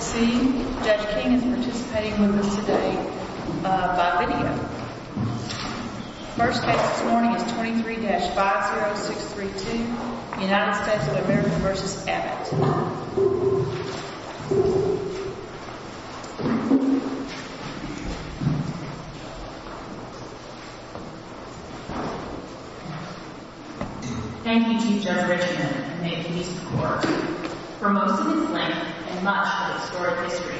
First case this morning is 23-50632, United States of America v. Abbott. Thank you, Chief Judge Richman, and may it please the Court, for most of its length and much of its historic history,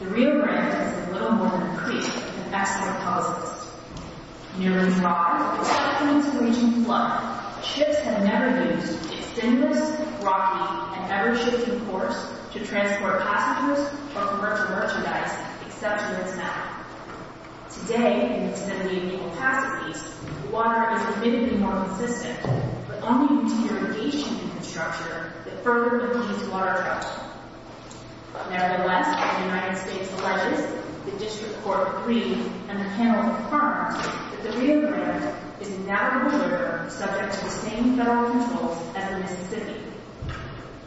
the Rio Grande has been little more than a creek of water, a river that has never shifted course to transport passengers or to merchandise, except for its mouth. Today, in its nearly identical capacities, the water is admittedly more consistent, but only in deterioration in its structure that further becomes water trouble. Nevertheless, the United States alleges, the District Court agrees, and the panel confirms, that the Rio Grande is now a river subject to the same federal controls as the Mississippi.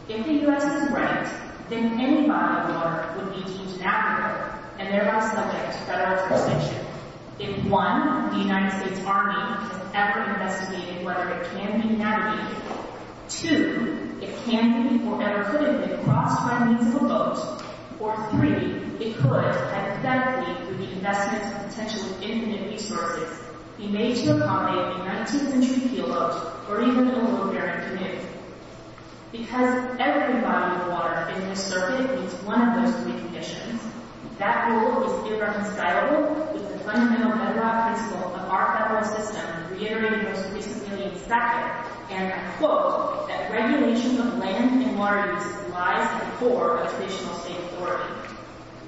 If the U.S. is right, then any body of water would be deemed an active river and thereby subject to federal jurisdiction if 1. The United States Army has ever investigated whether it can be navigated, 2. It can be or ever could have been crossed by means of a boat, or 3. It could, hypothetically, through the investment of potential infinite resources, be made to Because every body of water in this circuit meets one of those three conditions, that rule is irreconcilable with the fundamental pedagogical principle of our federal system, reiterated most recently in Sacramento, and I quote, that regulation of land and water use lies at the core of traditional state authority.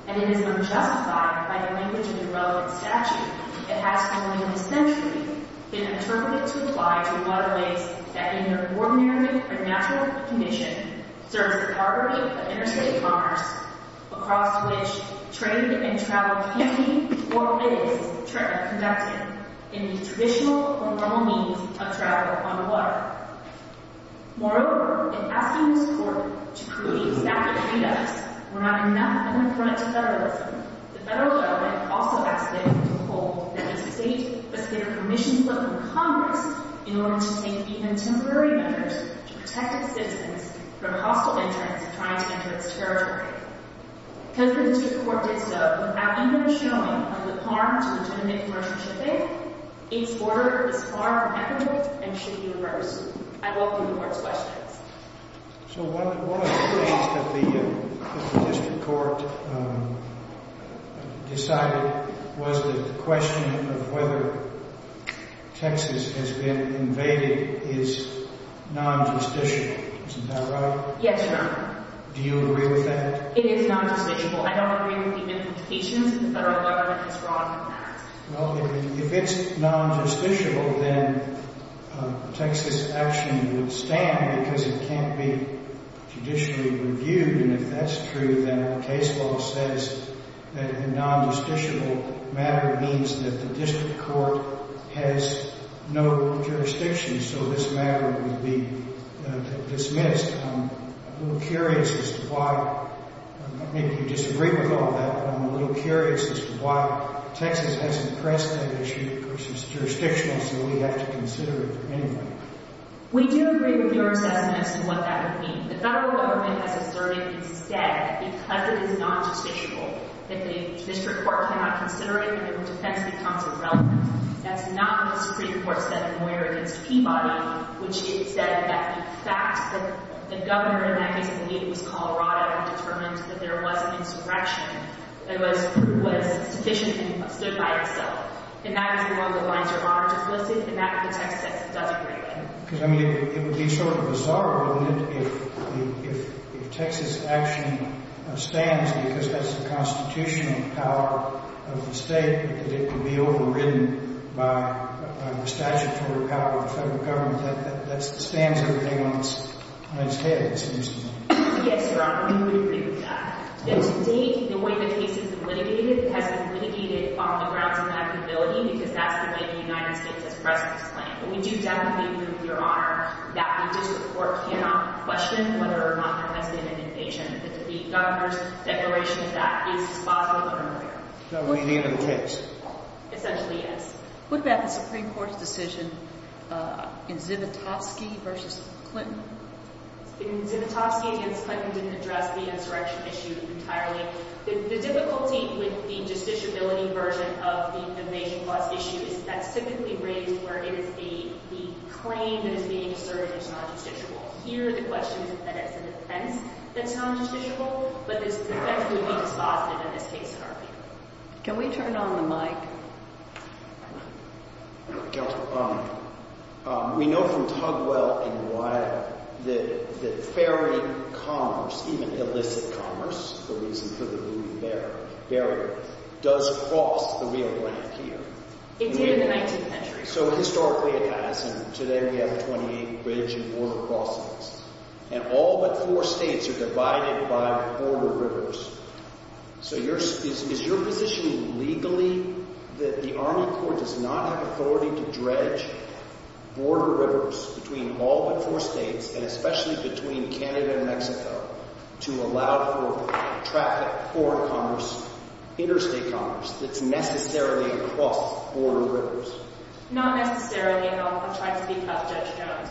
And it is unjustified by the language of the relevant statute that has, for nearly a century, been interpreted to apply to waterways that, in their ordinary or natural condition, serve the property of interstate commerce, across which trade and travel can be or is conducted in the traditional or normal means of travel on the water. Moreover, in asking this Court to prove the exact conducts were not enough to confront federalism, the federal government also asked it to hold that the state must get a permission slip from Congress in order to take even temporary measures to protect its citizens from hostile interests trying to enter its territory. Because the district court did so without even showing of the harm to legitimate commercial shipping, its order is far from equitable and should be reversed. I welcome the Court's questions. So one of the things that the district court decided was that the question of whether Texas has been invaded is non-justiciable. Isn't that right? Yes, Your Honor. Do you agree with that? It is non-justiciable. I don't agree with the implications of the federal government that's wrong on that. Well, if it's non-justiciable, then Texas action would stand because it can't be judicially reviewed. And if that's true, then our case law says that a non-justiciable matter means that the district court has no jurisdiction. So this matter would be dismissed. I'm a little curious as to why. I think you disagree with all that. I'm a little curious as to why Texas hasn't pressed that issue because it's jurisdictional, so we have to consider it for anybody. We do agree with your assessment as to what that would mean. The federal government has asserted instead that because it is non-justiciable, that the district court cannot consider it and the defense becomes irrelevant. That's not what the Supreme Court said in Moyer v. Peabody, which said that in fact the governor in that case, I believe it was Colorado, determined that there was an insurrection that was sufficient and stood by itself. And that was the one that lines your monitor closely. And that's what the Texas action does greatly. Because, I mean, it would be sort of bizarre, wouldn't it, if Texas action stands because that's the constitutional power of the state, that it could be overridden by the statutory power of the federal government. That stands everything on its head, it seems to me. Yes, Your Honor. We agree with that. That to date, the way the case has been litigated has been litigated on the grounds of applicability because that's the way the United States has pressed this claim. But we do definitely agree with Your Honor that the district court cannot question whether or not there has been an invasion. That the governor's declaration of that case is possible or unclear. So it would be the end of the case. Essentially, yes. What about the Supreme Court's decision in Zivotofsky v. Clinton? In Zivotofsky v. Clinton, it didn't address the insurrection issue entirely. The difficulty with the justiciability version of the invasion clause issue is that's typically raised where it is the claim that is being asserted is non-justiciable. Here, the question is that it's a defense that's non-justiciable. But this defense would be dispositive in this case, Your Honor. Can we turn on the mic? Counselor, we know from Tugwell and Wiley that ferry commerce, even illicit commerce, the reason for the moving barrier, does cross the Rio Grande here. It did in the 19th century. So historically, it has. And today, we have 28 bridge and border crossings. And all but four states are divided by border rivers. So is your position legally that the Army court does not have authority to dredge border rivers between all but four states, and especially between Canada and Mexico, to allow for traffic, foreign commerce, interstate commerce that's necessarily across border rivers? Not necessarily. And I'll try to speak up, Judge Jones.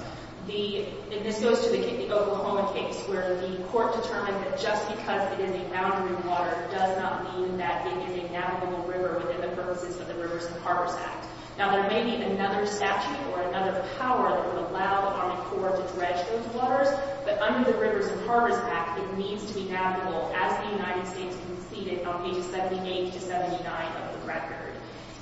And this goes to the Oklahoma case, where the court determined that just because it is a boundary water does not mean that it is a navigable river within the purposes of the Rivers and Harbors Act. Now, there may be another statute or another power that would allow the Army court to dredge those waters. But under the Rivers and Harbors Act, it needs to be navigable, as the United States conceded on pages 78 to 79 of the record.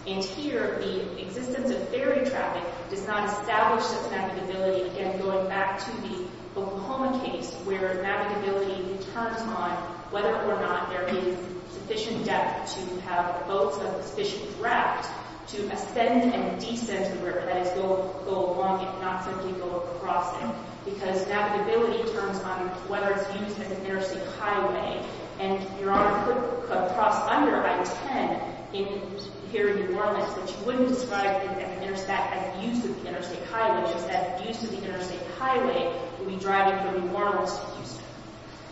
And here, the existence of ferry traffic does not establish this navigability. And going back to the Oklahoma case, where navigability turns on whether or not there is sufficient depth to have boats of sufficient draft to ascend and descend the river, that is, go along it, not simply go across it. Because navigability turns on whether it's used as an interstate highway. And Your Honor, could cross under I-10 here in New Orleans, which wouldn't describe it as used as an interstate highway, just as used as an interstate highway would be driving from New Orleans to Houston.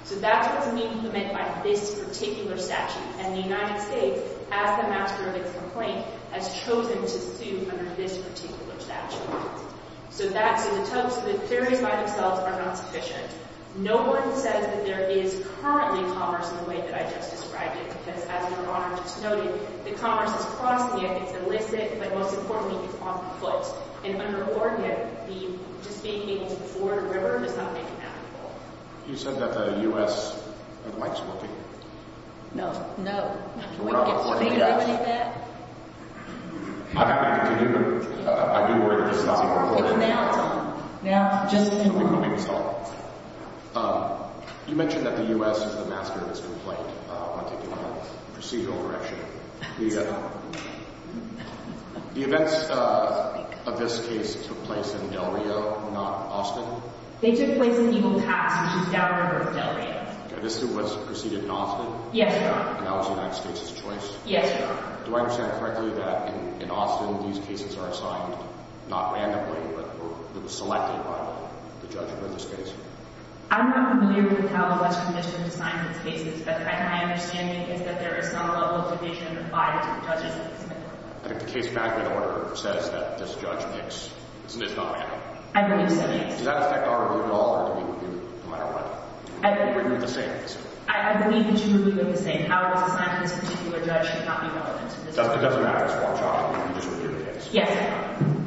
So that's what's being implemented by this particular statute. And the United States, as the master of its complaint, has chosen to sue under this particular statute. So that's in the text. The theories by themselves are not sufficient. No one says that there is currently commerce in the way that I just described it. Because as Your Honor just noted, the commerce is crossing it. It's illicit. But most importantly, it's off the foot. And under the Florida Act, just being able to board a river does not make it navigable. You said that the U.S. might still be here. No. No. Can we get to that? I'm happy to continue, but I do worry that this is not going to work. It's now, Tom. Now. Just in one week's time. You mentioned that the U.S. is the master of its complaint on taking a procedural direction. The events of this case took place in Del Rio, not Austin. They took place in Eagle Pass, which is downriver of Del Rio. This was preceded in Austin? Yes, Your Honor. And that was the United States' choice? Yes, Your Honor. Do I understand correctly that in Austin, these cases are assigned not randomly, but were selected by the judge for this case? I'm not familiar with how the West Commission assigns its cases. But my understanding is that there is some level of division applied to the judges in this case. I think the case back in order says that this judge makes, it's not random. I believe so, Your Honor. Does that affect our rule at all, or do we review it no matter what? We review it the same, basically. I believe that you review it the same. How it was assigned to this particular judge should not be relevant to this particular case. It doesn't matter. It's one child. We can just review the case. Yes, Your Honor.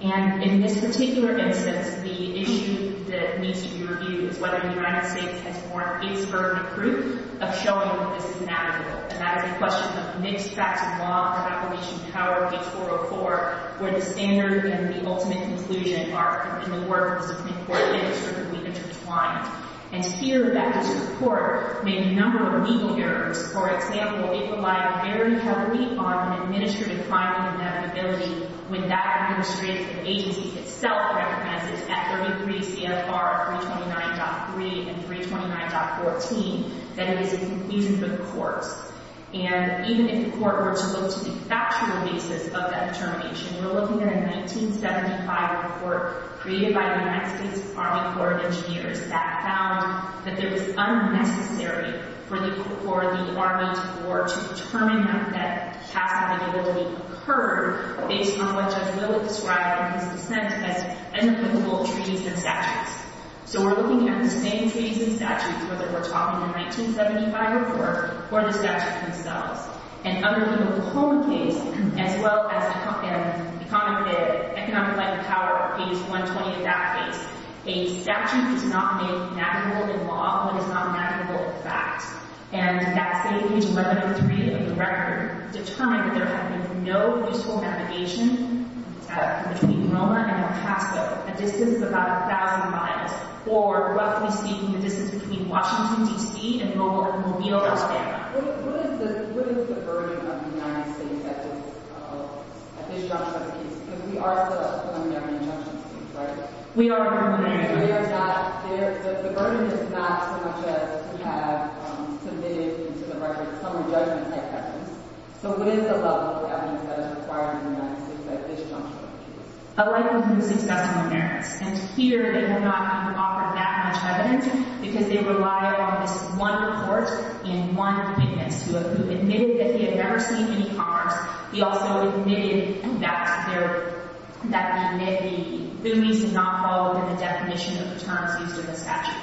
And in this particular instance, the issue that needs to be reviewed is whether the United States is in favor of showing that this is an aggregate. And that is a question of mixed-factor law and Appellation Power, page 404, where the standard and the ultimate conclusion are in the work of the Supreme Court, and it's certainly intertwined. And here, that this Court made a number of legal errors. For example, it relied very heavily on administrative crime and inevitability when that administrative agency itself recognizes at 33 CFR 329.3 and 329.14 that it is inconclusive of the courts. And even if the court were to look to the factual basis of that determination, we're looking at a 1975 report created by the United States Department of Labor Engineers that found that it was unnecessary for the Department of Labor to determine that that past inevitability occurred based on what Judge Willett described in his dissent as unrelatable treaties and statutes. So we're looking at the same treaties and statutes, whether we're talking the 1975 report or the statutes themselves. And under the Oklahoma case, as well as the common economic life of power, page 120 of that case, a statute is not made navigable in law when it's not navigable in fact. And that state, page 103 of the record, determined that there had been no useful navigation between Roma and El Paso, a distance of about 1,000 miles, or roughly speaking, the distance between Washington, D.C. and Mobile, Alabama. What is the burden of the United States at this juncture of the case? Because we are still a preliminary injunction state, right? We are preliminary. The burden is not so much as we have submitted into the record some re-judgment type evidence. So what is the level of evidence that is required in the United States at this juncture of the case? A likelihood of successful inheritance. And here, they have not even offered that much evidence because they rely on this one report and one witness who admitted that they had never seen any cars. He also admitted that there, that he admitted the boonies did not follow the definition of the terms used in the statute.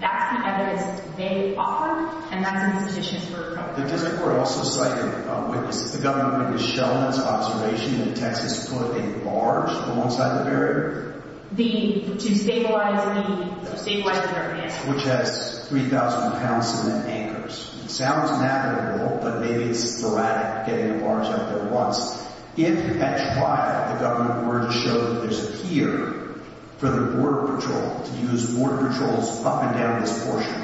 That's the evidence they offer, and that's insufficient for approval. The district court also cited a witness. The government has shown its observation that Texas put a barge alongside the barrier. The, to stabilize the, to stabilize the barrier. Which has 3,000 pounds in the anchors. It sounds inevitable, but maybe it's sporadic, getting the barge out there at once. If, at trial, the government were to show that there's a peer for the border patrol to use border patrols up and down this portion,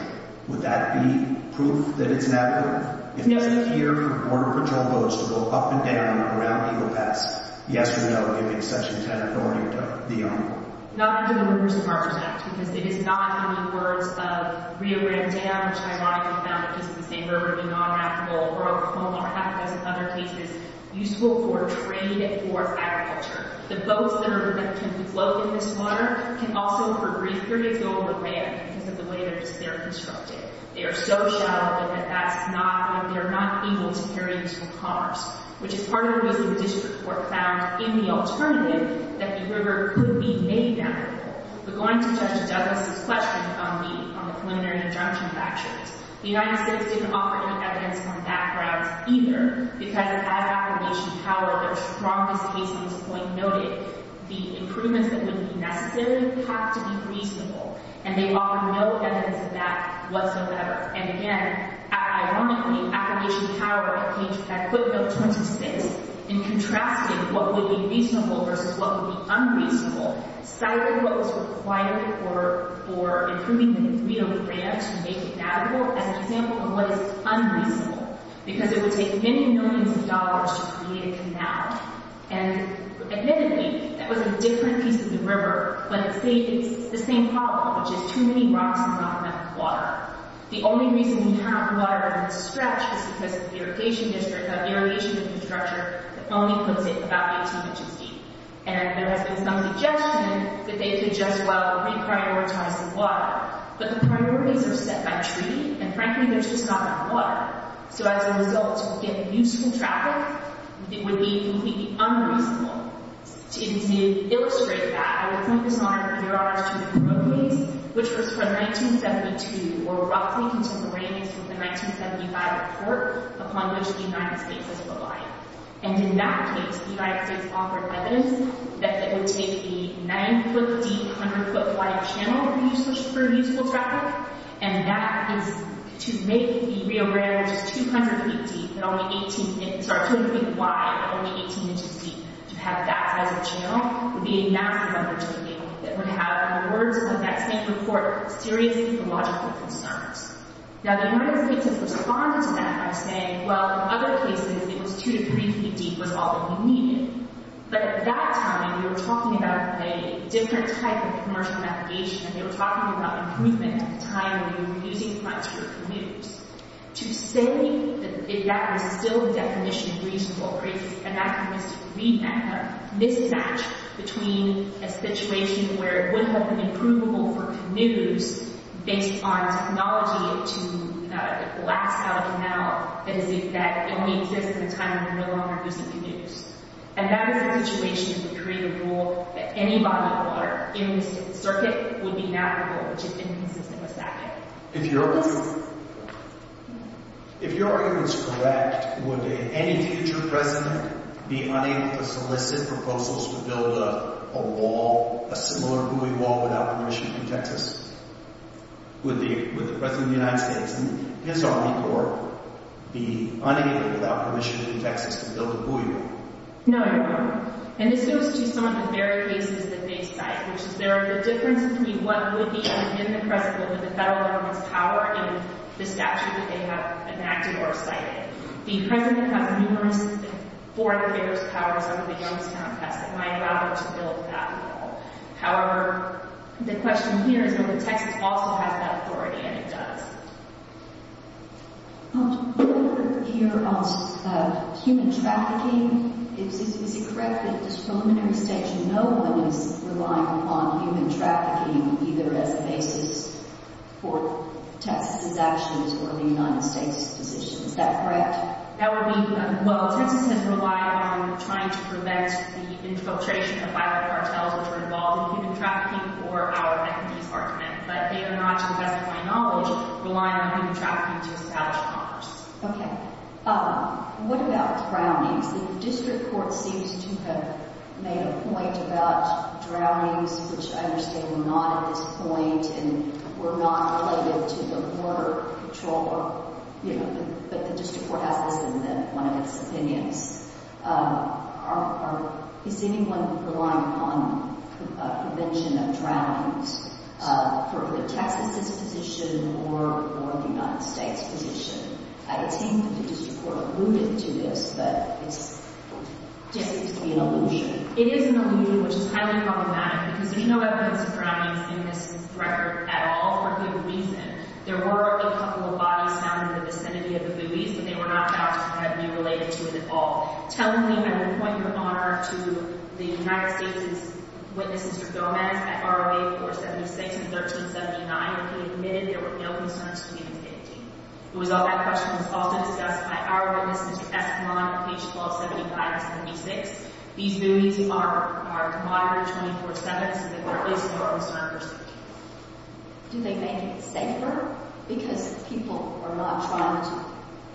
would that be proof that it's inevitable? If there's a peer for border patrol boats to go up and down around Eagle Pass, yes or no, giving Section 10 authority to the owner? Not under the Rivers and Harbors Act, because it is not under the words of Rio Grande, which ironically found that this is the same river, the non-navigable, or Oklahoma or half a dozen other cases, useful for trade or agriculture. The boats that are, that can float in this water can also, for brief periods, go over land because of the way they're constructed. They are so shallow that that's not, that they're not able to carry useful cars. Which is part of what the district court found in the alternative, that the river could be made navigable. But going to Judge Douglas' question on the preliminary injunction factors, the United States didn't offer any evidence on that grounds either, because as Appalachian Power, their strongest case at this point noted, the improvements that would be necessary have to be reasonable, and they offered no evidence that that was no better. And again, ironically, Appalachian Power, at Coonville 26, in contrasting what would be reasonable versus what would be unreasonable, cited what was required for improving the degree of the land to make it navigable as an example of what is unreasonable. Because it would take many millions of dollars to create a canal. And admittedly, that was a different piece of the river, but it's the same problem, which is too many rocks and not enough water. The only reason you cannot provide a stretch is because the irrigation district, that is not too much as deep. And there has been some suggestion that they could just, well, re-prioritize the water. But the priorities are set by treaty, and frankly, they're just not enough water. So as a result, to get useful traffic would be completely unreasonable. To illustrate that, I would point this honor, your honor, to the Crow case, which was from 1972, or roughly contemporaneous with the 1975 report, upon which the United States is reliant. And in that case, the United States offered evidence that it would take a 9-foot-deep, 100-foot-wide channel for useful traffic, and that is to make the Rio Grande, which is 200 feet deep, but only 18 inches, sorry, 200 feet wide, but only 18 inches deep, to have that size of channel would be a massive undertaking that would have, in the words of that same report, serious ecological concerns. Now, the United States has responded to that by saying, well, in other cases, it was two to three feet deep was all that we needed. But at that time, we were talking about a different type of commercial navigation, and they were talking about improvement at the time when we were using flights for commuters. To say that that was still the definition of reasonable, and that was to rematch, mismatch between a situation where it would have been improvable for commuters based on technology to blast out a canal that only exists at a time when we no longer use the commuters. And that was a situation that created a rule that any body of water in the circuit would be navigable, which had been consistent with that rule. If your argument is correct, would any future president be unable to solicit proposals to build a wall, a similar buoy wall, without permission in Texas? Would the president of the United States and his army corps be unable, without permission, in Texas to build a buoy wall? No, Your Honor. And this goes to some of the very cases that they cite, which is there are the differences between what would be within the president of the federal government's power and the statute that they have enacted or cited. The president has numerous foreign affairs powers under the Youngstown test. He might allow them to build that wall. However, the question here is whether Texas also has that authority, and it does. Your Honor, here on human trafficking, is it correct that at this preliminary stage no one is relying on human trafficking either as a basis for Texas's actions or the United States's position? Is that correct? That would mean, well, Texas has relied on trying to prevent the infiltration of violent cartels which are involved in human trafficking for our entities, our demand. But they are not, to the best of my knowledge, relying on human trafficking to establish commerce. Okay. What about drownings? The district court seems to have made a point about drownings, which I understand were not at this point and were not related to the border patrol, you know, but the district court has this in one of its opinions. Is anyone relying on prevention of drownings for the Texas's position or the United States position? I think the district court alluded to this, but it seems to be an allusion. It is an allusion, which is highly problematic because there's no evidence of drownings in this record at all, for good reason. There were a couple of bodies found in the vicinity of the buoys, but they were not found to have been related to it at all. Tell me, I'm going to point your honor to the United States' witnesses for Gomez at ROA 476 and 1379, who admitted there were no concerns for the entity. The result of that question was also discussed by our witnesses at Esquimont on page 1275 and 76. These buoys are moderate 24-7, so there is no concern for safety. Do they make it safer because people are not trying to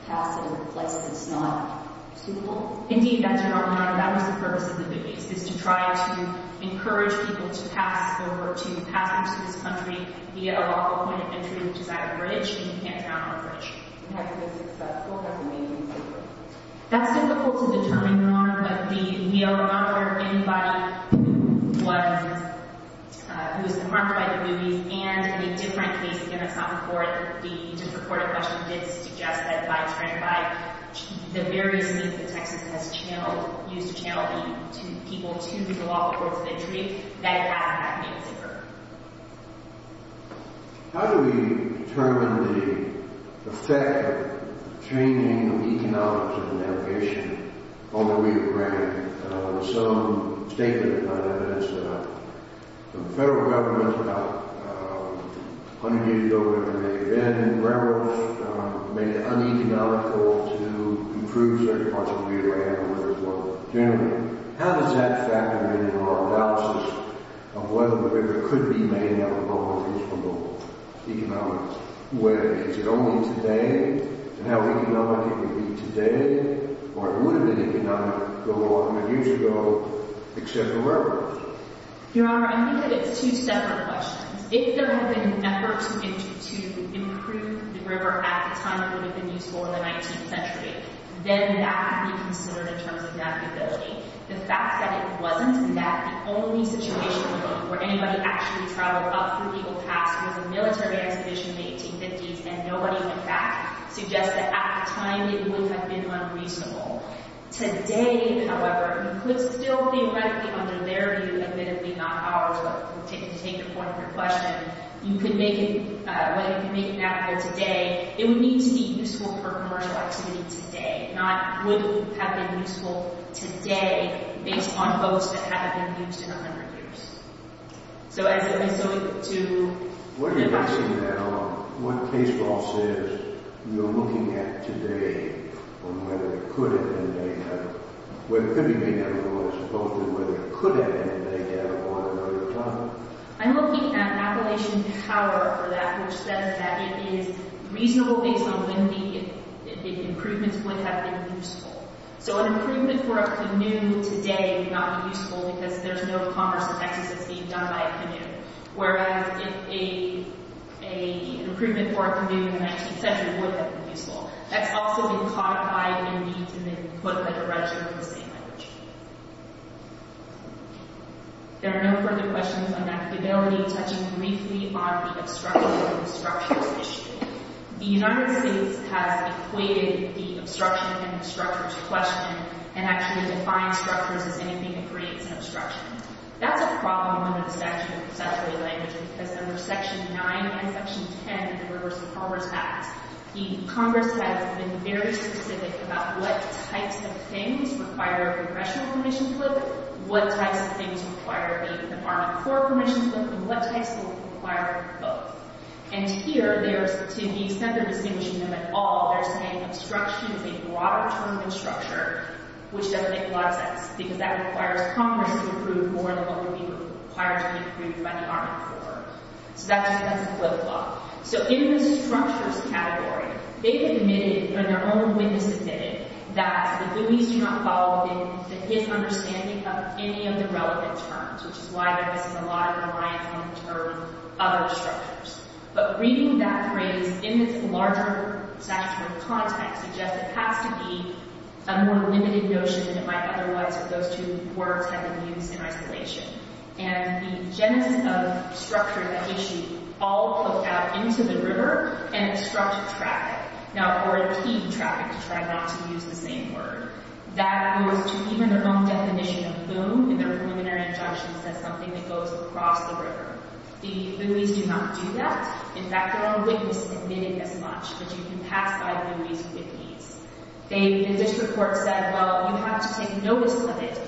pass it in places that's not suitable? Indeed, that's your honor. That was the purpose of the buoys, is to try to encourage people to pass over, to pass into this country via a local point of entry, which is at a bridge, and you can't drown on a bridge. And that's because the court hasn't made any paper. That's difficult to determine, your honor, but we are not aware of anybody who was harmed by the buoys, and in a different case, again, that's not in court, the different court in question did suggest that by trying to buy the various means that Texas has channeled, used to channel people to the local points of entry, that it has, in fact, made it safer. How do we determine the effect of changing the economics of the navigation on the Weir Grand? There's some statement that the federal government, about 100 years ago, wherever they've been, in general, made it uneconomical to improve certain parts of the Weir Grand, or whatever it was, generally. How does that factor in to our analysis of whether the river could be made in a more useful, more global economic way? Is it only today, and how economic it would be today, or it would have been economic a lot of years ago, except the river? Your honor, I think that it's two separate questions. If there had been an effort to improve the river at the time it would have been useful in the 19th century, then that would be considered in terms of navigability. The fact that it wasn't, and that the only situation where anybody actually traveled up through Eagle Pass was a military expedition in the 1850s, and nobody went back, suggests that at the time, it would have been unreasonable. Today, however, we could still theoretically, under their view, admittedly, not ours, but to take the point of your question, you could make it, whether you can make that here today, it would need to be useful for commercial activity today, not would have been useful today based on boats that haven't been used in a hundred years. So as a result to... What are you asking now? What case law says you're looking at today on whether it could have been made, when it could have been made, as opposed to whether it could have been made at one or another time? I'm looking at Appalachian Power for that, which says that it is reasonable based on when the improvements would have been useful. So an improvement for a canoe today would not be useful because there's no commerce in Texas that's being done by a canoe, whereas an improvement for a canoe in the 19th century would have been useful. That's also been caught by Indies, and they put a register of the same language. There are no further questions on that. The ability to touch briefly on the obstruction and the structures issue. The United States has equated the obstruction and the structures question and actually defined structures as anything that creates an obstruction. That's a problem under the statute of statutory languages, because under section 9 and section 10 of the Rivers of Commerce Act, the Congress has been very specific about what types of things require congressional permission to look, what types of things require the Army Corps permission to look, and what types of things require both. And here, to be center-distinguishing them at all, they're saying obstruction is a broader term than structure, which doesn't make a lot of sense, because that requires Congress to approve more than what would be required to be approved by the Army Corps. So that's a flip-flop. So in the structures category, they've admitted, and their own witness admitted, that the issues do not fall within his understanding of any of the relevant terms, which is why there isn't a lot of reliance on the term other structures. But reading that phrase in its larger statutory context suggests it has to be a more limited notion than it might otherwise, if those two words had been used in isolation. And the genesis of structure, that issue, all poked out into the river and obstructed traffic, or impede traffic to try not to use the same word. That goes to even their own definition of boom, and their preliminary injunction says something that goes across the river. The Louie's do not do that. In fact, their own witness admitted as much, that you can pass by Louie's with ease. They, in this report, said, well, you have to take notice of it,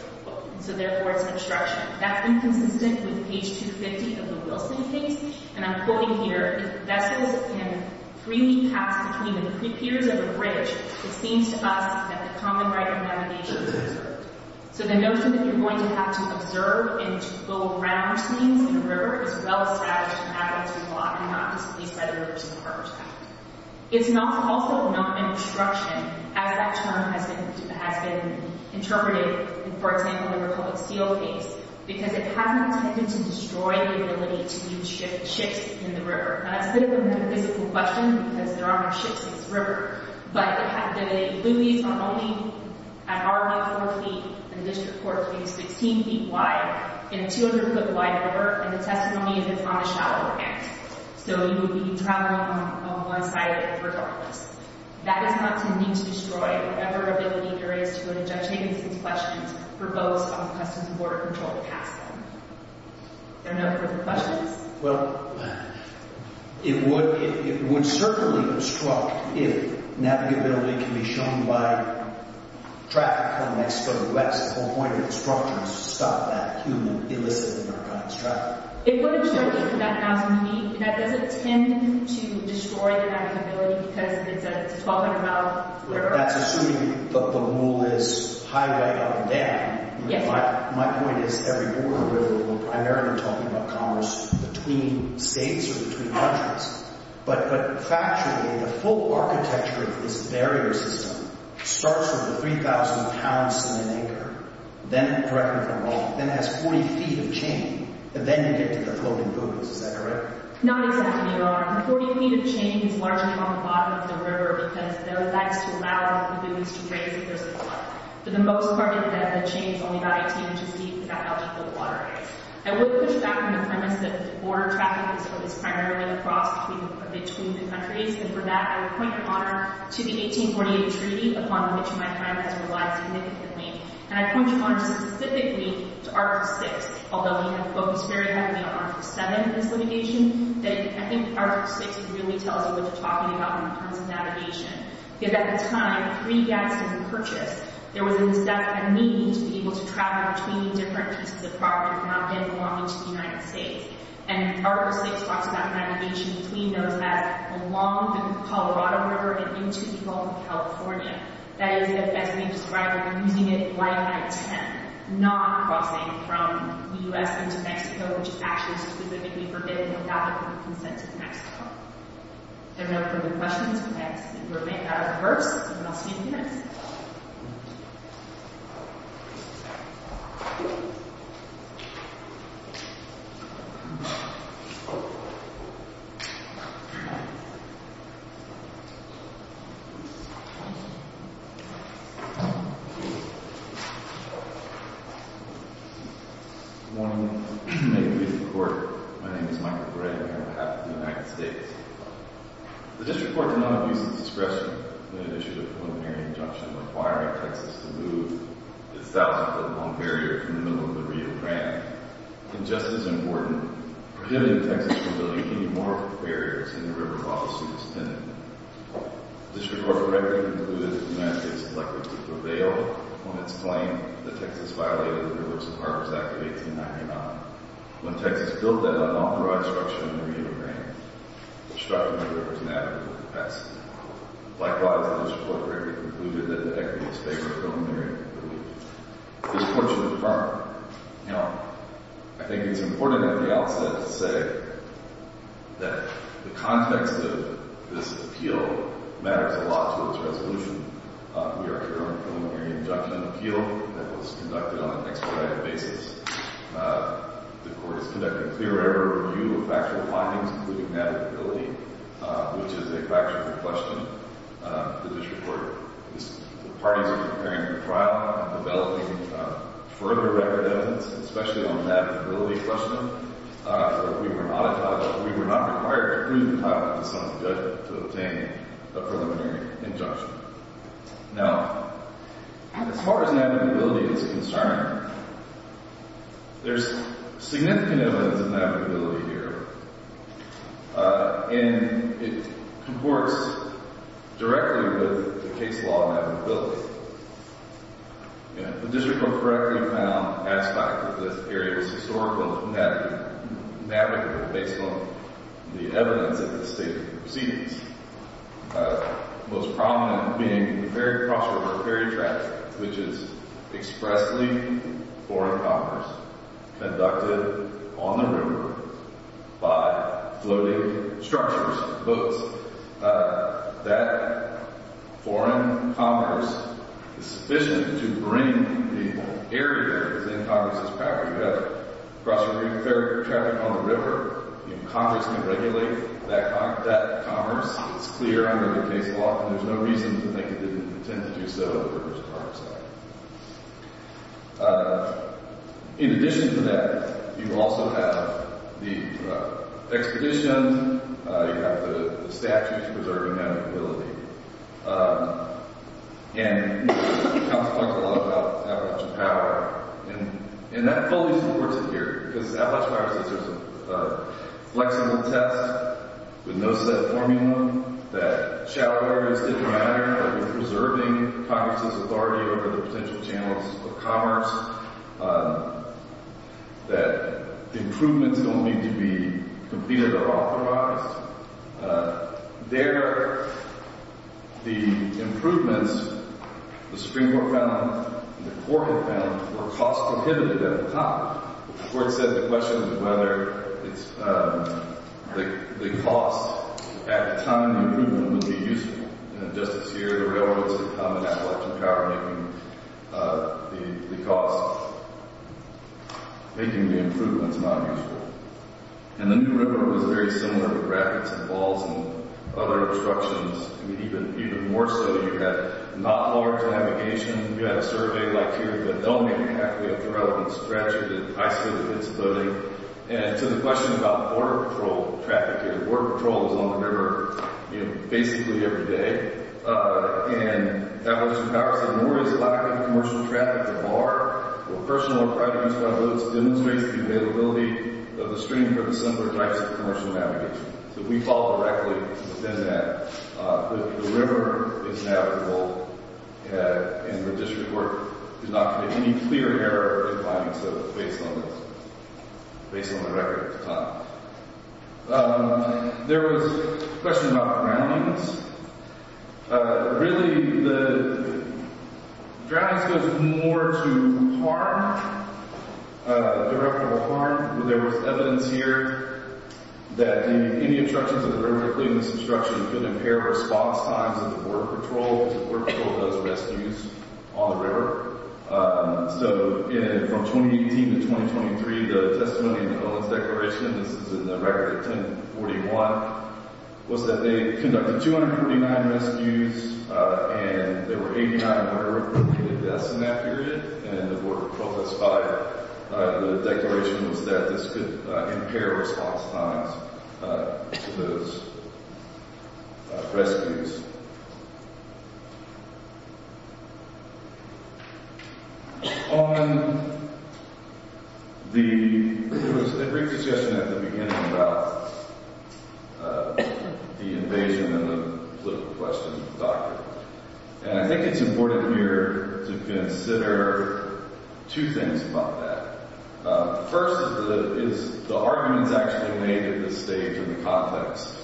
so therefore it's an obstruction. That's inconsistent with page 250 of the Wilson case, and I'm quoting here, if vessels can freely pass between the creek piers of a bridge, it seems to us that the common right of navigation is preserved. So the notion that you're going to have to observe and to go around things in the river is well-established in Adelaide's law, and not just at least by the Rivers and Harbors Act. It's also not an obstruction, as that term has been interpreted in, for example, the Republic Seal case, because it has not tended to destroy the ability to use ships in the river. Now, that's a bit of a metaphysical question, because there are no ships in this river, but the Louie's are only at R1-4 feet, and the District Court's is 16 feet wide, in a 200-foot-wide river, and the testimony is on the shallower end. So you would be traveling on one side of it regardless. That does not tend to destroy whatever ability there is to go to judge Higgins for questions for boats on the Customs and Border Control to pass them. There are no further questions? Well, it would certainly obstruct if navigability can be shown by traffic coming from the west at one point, and obstructing us to stop that human, illicit Americans traveling. It would obstruct it, but that doesn't tend to destroy the navigability, because it's a 1,200-mile river. That's assuming that the mule is highway up and down. Yes. My point is, every border river, we're primarily talking about commerce between states or between countries, but factually, the full architecture of this barrier system starts with a 3,000-pound sand anchor, then directly from the water, then has 40 feet of chain, and then you get to the floating buildings. Is that correct? Not exactly, Your Honor. The 40 feet of chain is largely on the bottom of the river, because there are lights to allow the Louie's to raise their supply. For the most part, the chain is only about 18 inches deep for that eligible waterways. I would push back on the premise that border traffic is primarily across between the countries, and for that, I would point, Your Honor, to the 1848 Treaty, upon which my time has relied significantly. And I point, Your Honor, specifically to Article VI, although we have focused very heavily on Article VII in this litigation. I think Article VI really tells you what you're talking about when it comes to navigation, because at the time, pre-Gadsden Purchase, there was a necessity to be able to travel between different pieces of property, not getting along into the United States. And Article VI talks about navigation between those that belong to the Colorado River and into the Gulf of California. That is, as we described, we're using it right by intent, not crossing from the U.S. into Mexico, which is actually specifically forbidden without the consent of Mexico. Everyone, if you have any questions, please remain at a reverse, and I'll see you in a few minutes. Good morning. May it be reported, my name is Michael Gray. I'm here on behalf of the United States. The District Court did not abuse its discretion when it issued a preliminary injunction requiring Texas to move its southbound long barrier from the middle of the Rio Grande. And just as important, prohibiting Texas from building any more barriers in the river while it's superintendent. The District Court correctly concluded that the United States is likely to prevail on its claim that Texas violated the Rivers and Harbors Act of 1899. When Texas built that unauthorized structure in the Rio Grande, it obstructed the rivers and avenues of the past. Likewise, the District Court correctly concluded that the equity of space was preliminary, but we disported the firm. Now, I think it's important at the outset to say that the context of this appeal matters a lot to its resolution. We are here on a preliminary injunction appeal that was conducted on an expedited basis. The Court is conducting clear error review of factual findings, including navigability, which is a factual question. The District Court parties are preparing for trial and developing further record evidence, especially on navigability questioning. We were not required to prove the title of the son's judgment to obtain a preliminary injunction. Now, as far as navigability is concerned, there's significant evidence of navigability here, and it comports directly with the case law navigability. The District Court correctly found aspects of this area was historically navigable based on the evidence at the state of proceedings, most prominent being ferry cross-river ferry traffic, which is expressly foreign commerce conducted on the river by floating structures, boats. That foreign commerce is sufficient to bring the area that's in Congress's package together. Cross-river ferry traffic on the river, Congress can regulate that commerce. It's clear under the case law, and there's no reason to think it didn't intend to do so at the Riverside Commerce Center. In addition to that, you also have the expedition. You have the statutes preserving navigability. And counsel talked a lot about Appalachian Power, and that fully supports it here, because Appalachian Power says there's a flexible test with no set formula, that shallow areas didn't matter, that we're preserving Congress's authority over the potential channels of commerce, that improvements don't need to be completed or authorized. There, the improvements the Supreme Court found and the court had found were cost-prohibited at the time. The court said the question was whether the cost at the time of the improvement would be useful. And just this year, the railroads had come in Appalachian Power, making the cost, making the improvements not useful. And the new river was very similar with rapids and falls and other obstructions. I mean, even more so, you had not large navigation. You had a survey like here, but they'll make it halfway up the road and scratch it and isolate its loading. And to the question about border patrol traffic here, border patrol was on the river, you know, basically every day. And Appalachian Power said, nor is lack of commercial traffic the bar. Well, personal or private use by boats demonstrates the availability of the stream for the simpler types of commercial navigation. So we fall directly within that. The river is navigable, and the district court did not commit any clear error or defiance of it based on this, based on the record at the time. There was a question about drownings. Really, the drownings was more to harm, directable harm. There was evidence here that any obstructions of the river, including this obstruction, could impair response times of the border patrol, because the border patrol does rescues on the river. So from 2018 to 2023, the testimony in the Covenant's Declaration, this is in the record 1041, was that they conducted 249 rescues, and there were 89 murder-reported deaths in that period, and the border was closed by the Declaration, was that this could impair response times to those rescues. On the, there was a brief discussion at the beginning about the invasion and the political question of the document, and I think it's important here to consider two things about that. First is the arguments actually made at this stage in the context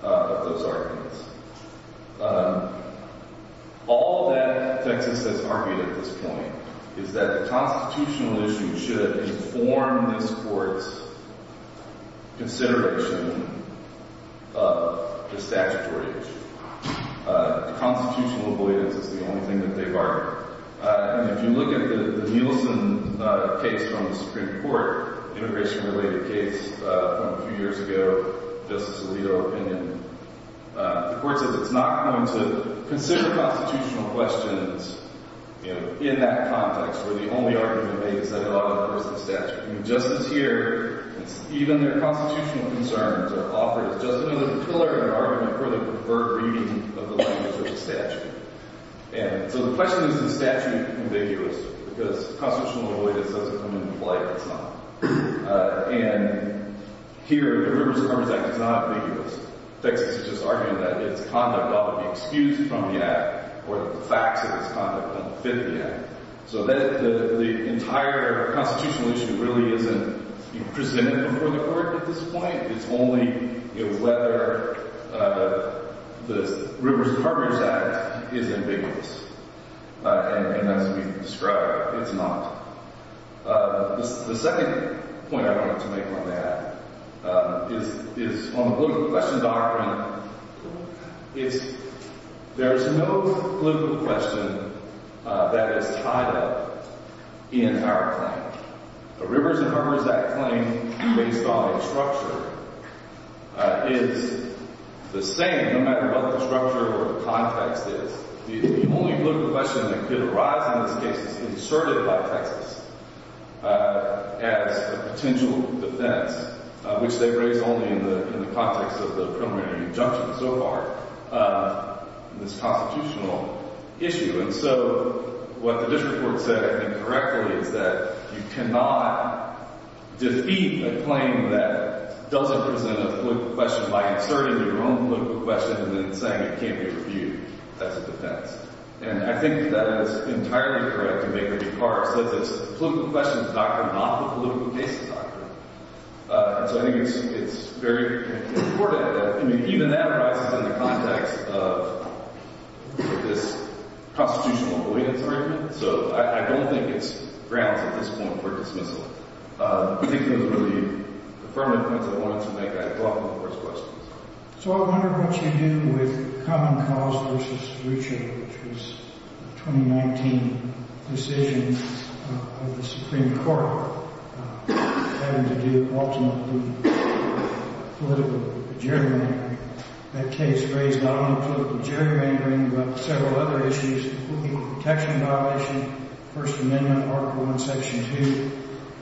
of those arguments. All that Texas has argued at this point is that the constitutional issue should inform this court's consideration of the statutory issue. The constitutional avoidance is the only thing that they've argued. And if you look at the Nielsen case from the Supreme Court, immigration-related case from a few years ago, Justice Alito opinion, the court says it's not going to consider constitutional questions in that context, where the only argument made is that it ought to enforce the statute. Justice here, even their constitutional concerns are offered as just another pillar of their argument for the preferred reading of the language of the statute. And so the question is, is the statute ambiguous? Because constitutional avoidance doesn't come into play at this time. And here, the Rivers and Harbors Act is not ambiguous. Texas is just arguing that its conduct ought to be excused from the act or that the facts of its conduct don't fit the act. So the entire constitutional issue really isn't presented before the court at this point. It's only whether the Rivers and Harbors Act is ambiguous. And as we described, it's not. The second point I wanted to make on that is on the political question document. There's no political question that is tied up in our claim. The Rivers and Harbors Act claim, based on its structure, is the same, no matter what the structure or the context is. The only political question that could arise in this case is inserted by Texas as a potential defense, which they've raised only in the context of the preliminary injunction so far in this constitutional issue. And so what the district court said, I think, correctly is that you cannot defeat a claim that doesn't present a political question by inserting your own political question and then saying it can't be reviewed. That's a defense. And I think that is entirely correct to make the departure. It says it's the political question document, not the political case document. And so I think it's very important. I mean, even that arises in the context of this constitutional avoidance argument. So I don't think it's grounds at this point for dismissal. I think those are the affirmative points I wanted to make. I applaud the court's questions. So I wonder what you do with Common Cause v. Richard, which was a 2019 decision of the Supreme Court. That case raised not only political gerrymandering, but several other issues, the Equal Protection Violation, the First Amendment, Article I, Section 2,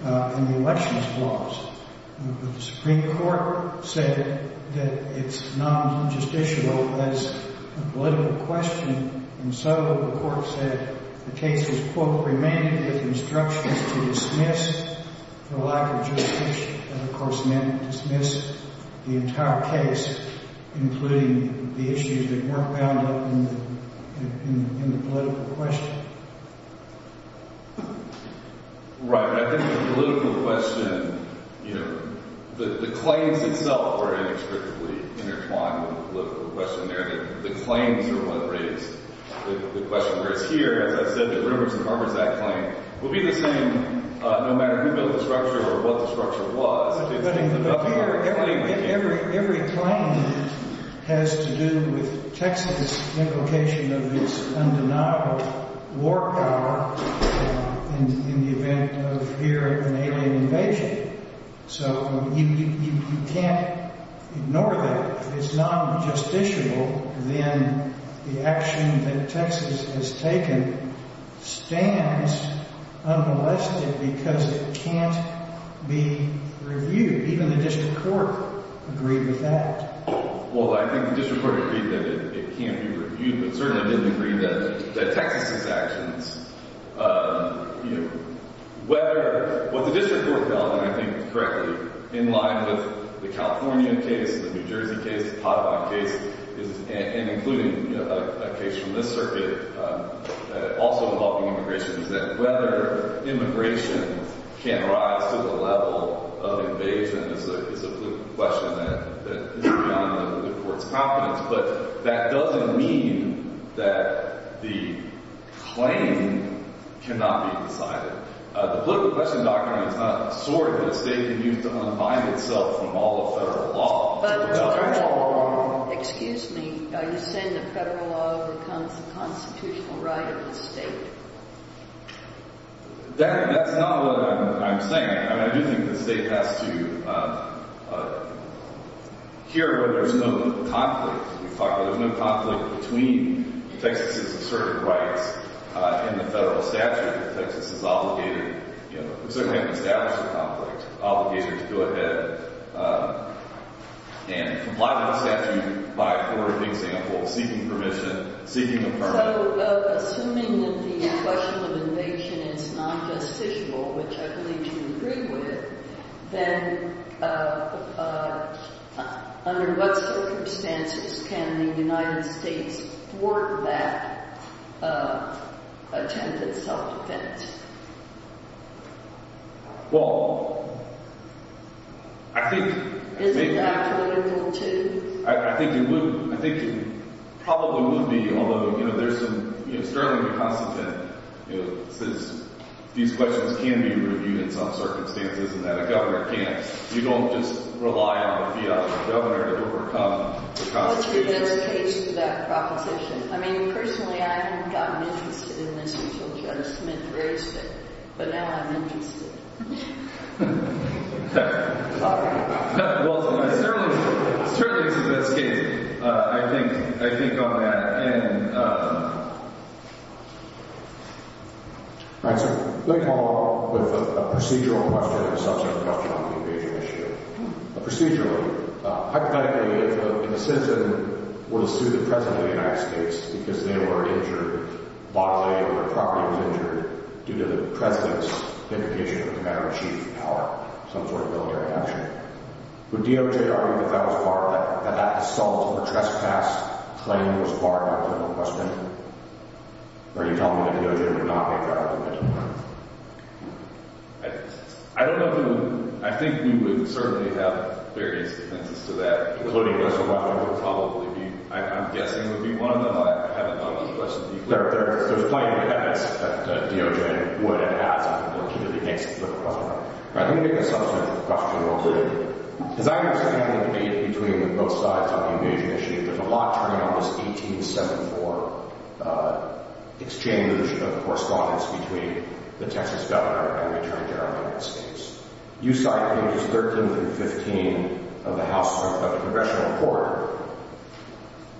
and the elections laws. But the Supreme Court said that it's not justiciable as a political question. And so the court said the case was, quote, remanded with instructions to dismiss for including the issues that weren't bound up in the political question. Right. But I think the political question, you know, the claims itself were inextricably intertwined with the political question there. And the claims are what raised the question. Whereas here, as I said, the Rivers and Harbors Act claim will be the same no matter who built the structure or what the structure was. But every claim has to do with Texas' implication of its undeniable war power in the event of here an alien invasion. So you can't ignore that. If it's not justiciable, then the action that Texas has taken stands unmolested because it can't be reviewed. Even the district court agreed with that. Well, I think the district court agreed that it can't be reviewed. But certainly, I didn't agree that Texas' actions, you know, whether what the district court held, and I think it's correctly in line with the California case, the New Jersey case, the Potawatomi case, and including a case from this circuit also involving immigration, that whether immigration can rise to the level of invasion is a political question that is beyond the court's confidence. But that doesn't mean that the claim cannot be decided. The political question, Dr. Arnn, is not a sword that a state can use to unbind itself from all of federal law. But, Mr. Arnn, excuse me. Are you saying that federal law becomes a constitutional right of the state? That's not what I'm saying. I mean, I do think the state has to hear where there's no conflict. We've talked about there's no conflict between Texas' asserted rights and the federal statute. Texas is obligated, you know, we certainly haven't established a conflict, obligated to go ahead and comply with a statute by a court in big Singapore seeking permission, seeking a permit. So assuming that the question of invasion is not justiciable, which I believe you agree with, then under what circumstances can the United States thwart that attempt at self-defense? Well, I think it probably would be, although, you know, there's some, you know, sterling reconstant that, you know, since these questions can be reviewed in some circumstances and that a governor can't, you don't just rely on a fiat from the governor to overcome the consequences. What's the best case for that proposition? I mean, personally, I haven't gotten interested in this until Governor Smith raised it, but now I'm interested. Well, certainly, certainly it's a good case, I think, I think on that. And, all right, so let me follow up with a procedural question and a substantive question on the invasion issue. Procedurally, hypothetically, if a citizen were to sue the President of the United States because they were injured bodily or their property was injured due to the President's indication of the man or chief of power, some sort of military action, would DOJ argue that that was part of that, that that assault or trespass claim was part of the question? Or are you telling me that DOJ would not make that argument? I don't know if it would, I think we would certainly have various defenses to that, including those that I would probably be, I'm guessing, would be one of them, but I haven't known those questions to be clear. There's plenty of evidence that DOJ would have asked in order to make some sort of question. All right, let me make a substantive question real quick. As I understand the debate between both sides on the invasion issue, there's a lot turning on this 1874 exchange of correspondence between the Texas governor and the Attorney General of the United States. You cite pages 13 through 15 of the House, of the Congressional Court,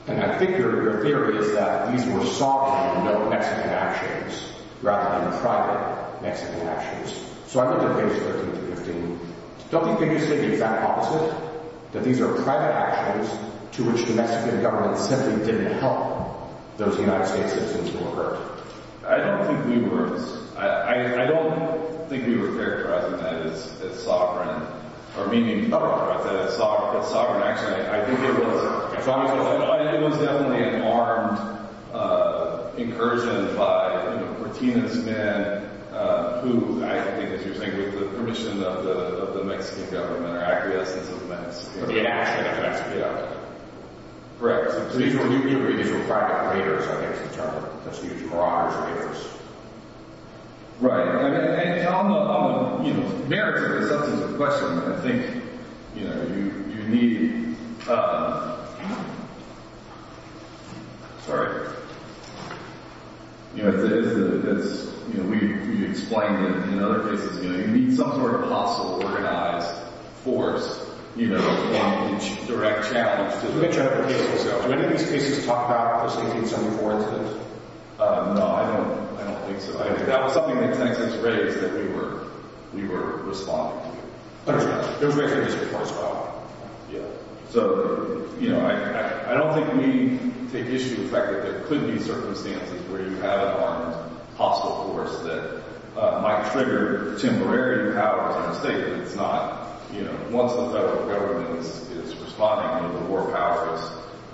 and I think your theory is that these were softened, no Mexican actions, rather than private Mexican actions. So I look at pages 13 through 15, don't you think you said the exact opposite, that these were private actions to which the Mexican government simply didn't help those United States citizens who were hurt? I don't think we were, I don't think we were characterizing that as sovereign, or meaning that as sovereign action. I think it was, it was definitely an armed incursion by, you know, Cortina's men, who I think, as you're saying, with the permission of the Mexican government, or acquiescence of the Mexican government. But the action of the Mexican government. Correct. So these were, you agree, these were private raiders, I guess you'd term them, such as garage raiders. Right. And on the, you know, merits of the substance of the question, I think, you know, you need, sorry, you know, it's, you know, we've explained it in other cases, you know, you need some sort of hostile organized force, you know, in each direct challenge. Let me turn to the case itself. Were any of these cases talked about in the 1874 incident? No, I don't, I don't think so. I mean, that was something that Tenet had just raised, that we were, we were responding to. Understood. It was raised in this report as well. Yeah. So, you know, I, I don't think we take issue with the fact that there could be circumstances where you have an armed hostile force that might trigger temporary powers in the state, but it's not, you know, once the federal government is responding, you know, the war powers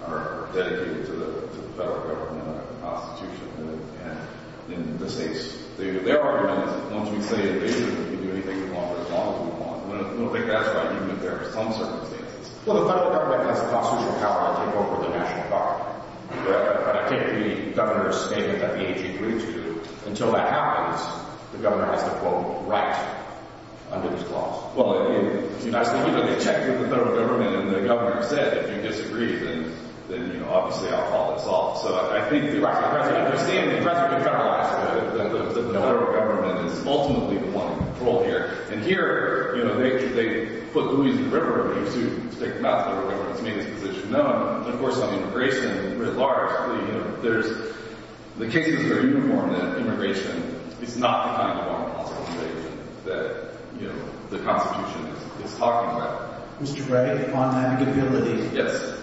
are dedicated to the, to the federal government, not the Constitution. And in the states, their argument is that once we say invasion, we can do anything we want for as long as we want. I don't think that's right, even if there are some circumstances. Well, the federal government has the constitutional power to take over the national park, but I take the governor's statement that the AG agreed to. Until that happens, the governor has to, quote, write under his clause. Well, it, you know, I think, you know, they checked with the federal government, and the governor said, if you disagree, then, then, you know, obviously I'll call this off. So I think the U.S. president, they're seeing the president federalize, but the federal government is ultimately the one in control here. And here, you know, they, they put Louie's River in use to take the mouth of the river and it's made its position known. And of course, on immigration, at large, you know, there's, the cases are uniformed that immigration is not the kind of unlawful situation that, you know, the Constitution is talking about. Mr. Gray, on navigability. Yes.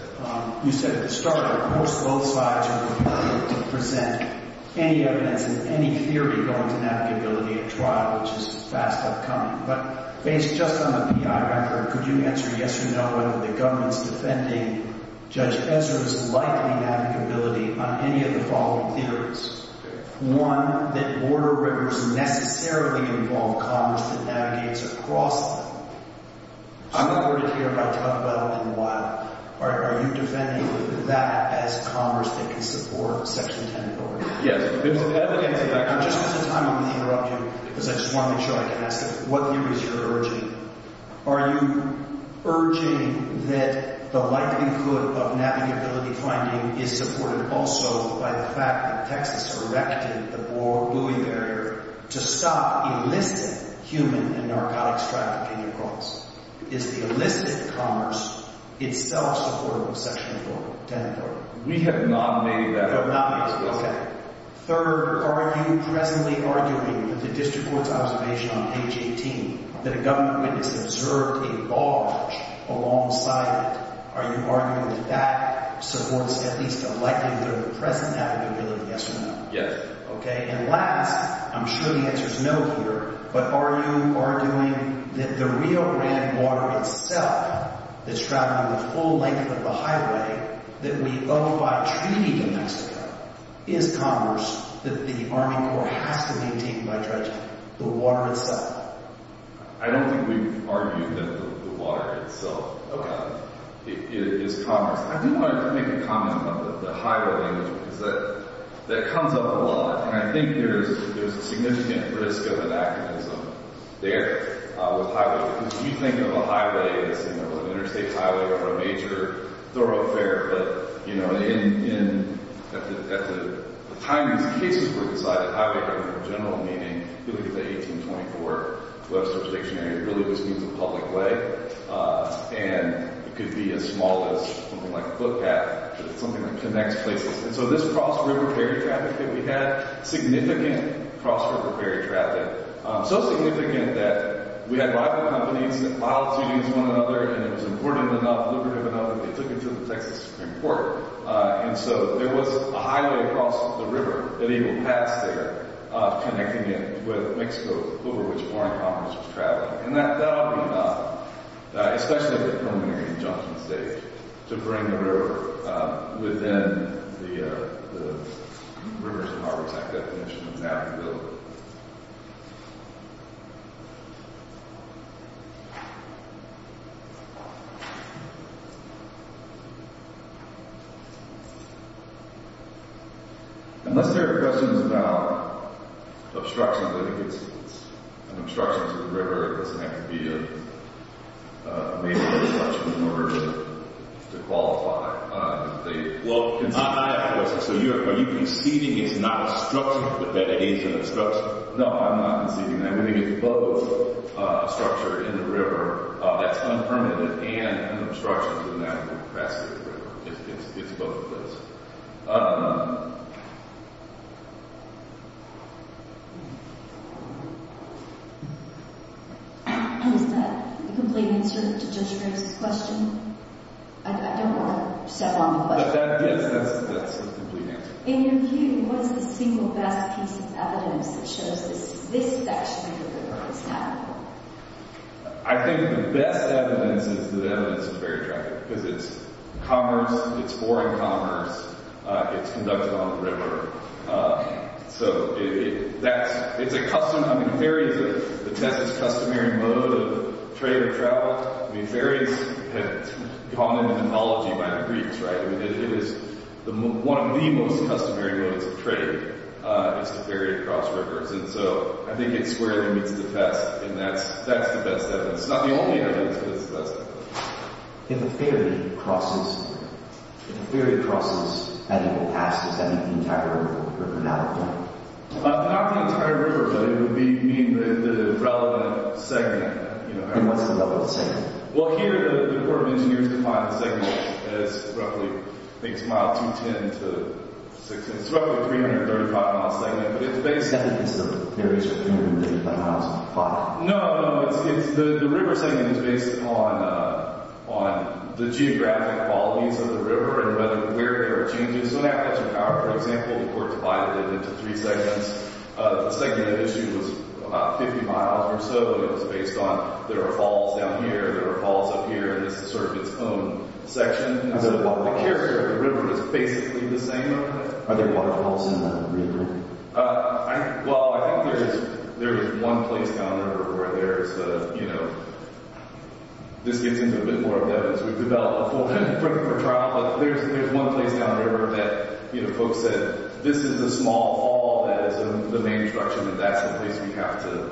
You said at the start, of course, both sides are prepared to present any evidence and any theory going to navigability at trial, which is a fast outcome. But based just on the PI record, could you answer yes or no, whether the government's defending Judge Ezra's likely navigability on any of the following theories? One, that border rivers necessarily involve commerce that navigates across them. I'm not going to care if I talk about it in a while. Are you defending that as commerce that can support Section 10 of the Oregon Act? Yes. Just at the time I'm going to interrupt you, because I just want to make sure I can ask it, what theories are you urging? Are you urging that the likelihood of navigability finding is supported also by the fact that Texas erected the border buoy barrier to stop illicit human and narcotics traffic in your courts? Is the illicit commerce itself supportable in Section 10 of the Oregon Act? We have not made that argument. You have not made it, okay. Third, are you presently arguing that the district court's observation on page 18, that a government witness observed a barge alongside it, are you arguing that that supports at least the likelihood of the present navigability, yes or no? Yes. Okay. And last, I'm sure the answer's no here, but are you arguing that the Rio Grande water itself that's traveling the full length of the highway that we owe by treaty to Mexico is commerce that the Army Corps has to maintain by dredging, the water itself? I don't think we've argued that the water itself is commerce. I do want to make a comment about the highway language, because that comes up a lot. And I think there's a significant risk of an activism there with highway. Because if you think of a highway as, you know, an interstate highway or a major thoroughfare, but, you know, at the time these cases were decided, the highway had more general meaning. If you look at the 1824 Webster's Dictionary, it really just means a public way. And it could be as small as something like a footpath, something that connects places. And so this cross-river ferry traffic that we had, significant cross-river ferry traffic, so significant that we had rival companies that filed suit against one another, and it was important enough, lucrative enough, that they took it to the Texas Supreme Court. And so there was a highway across the river that he would pass there, connecting it with Mexico, over which Warren Congress was traveling. And that ought to be enough, especially with preliminary injunction states, to bring the river within the Rivers and Harbors Act definition of navigability. Unless there are questions about obstructions, I think it's an obstruction to the river. It doesn't have to be a major obstruction in order to qualify. Well, I have questions. So are you conceding it's not a structure that aids in obstruction? No, I'm not conceding that. I think it's both a structure in the river that's unpermitted and an obstruction to the cross-river river. It's both of those. Is that a complete answer to Judge Ramos' question? I don't want to settle on the question. Yes, that's a complete answer. In your view, what is the single best piece of evidence that shows this is actually the river that's navigable? I think the best evidence is the evidence of ferry traffic, because it's commerce. It's foreign commerce. It's conducted on the river. So it's a custom. I mean, ferries are the 10th customary mode of trade or travel. I mean, ferries have gone into mythology by the Greeks, right? I mean, it is one of the most customary modes of trade is to ferry across rivers. And so I think it's where it meets the test. And that's the best evidence. It's not the only evidence, but it's the best evidence. If a ferry crosses, and it passes, does that mean the entire river? Or not the entire river? Not the entire river, but it would mean the relevant segment. And what's the relevant segment? Well, here the Department of Engineers defines the segment as roughly, I think it's mile 210 to 610. It's roughly a 335-mile segment. But it's based on— Is that the case that ferries are 335? No, no, no. The river segment is based on the geographic qualities of the river and where there are changes. So in Appalachian Power, for example, the court divided it into three segments. The segment issue was about 50 miles or so. It was based on there are falls down here, there are falls up here, and this is sort of its own section. And so the character of the river is basically the same. Are there waterfalls in the river? Well, I think there is one place down the river where there is—this gets into a bit more of the evidence. We've developed a full-length framework for trial. But there's one place down the river that folks said, this is the small fall that is in the main structure, and that's the place we have to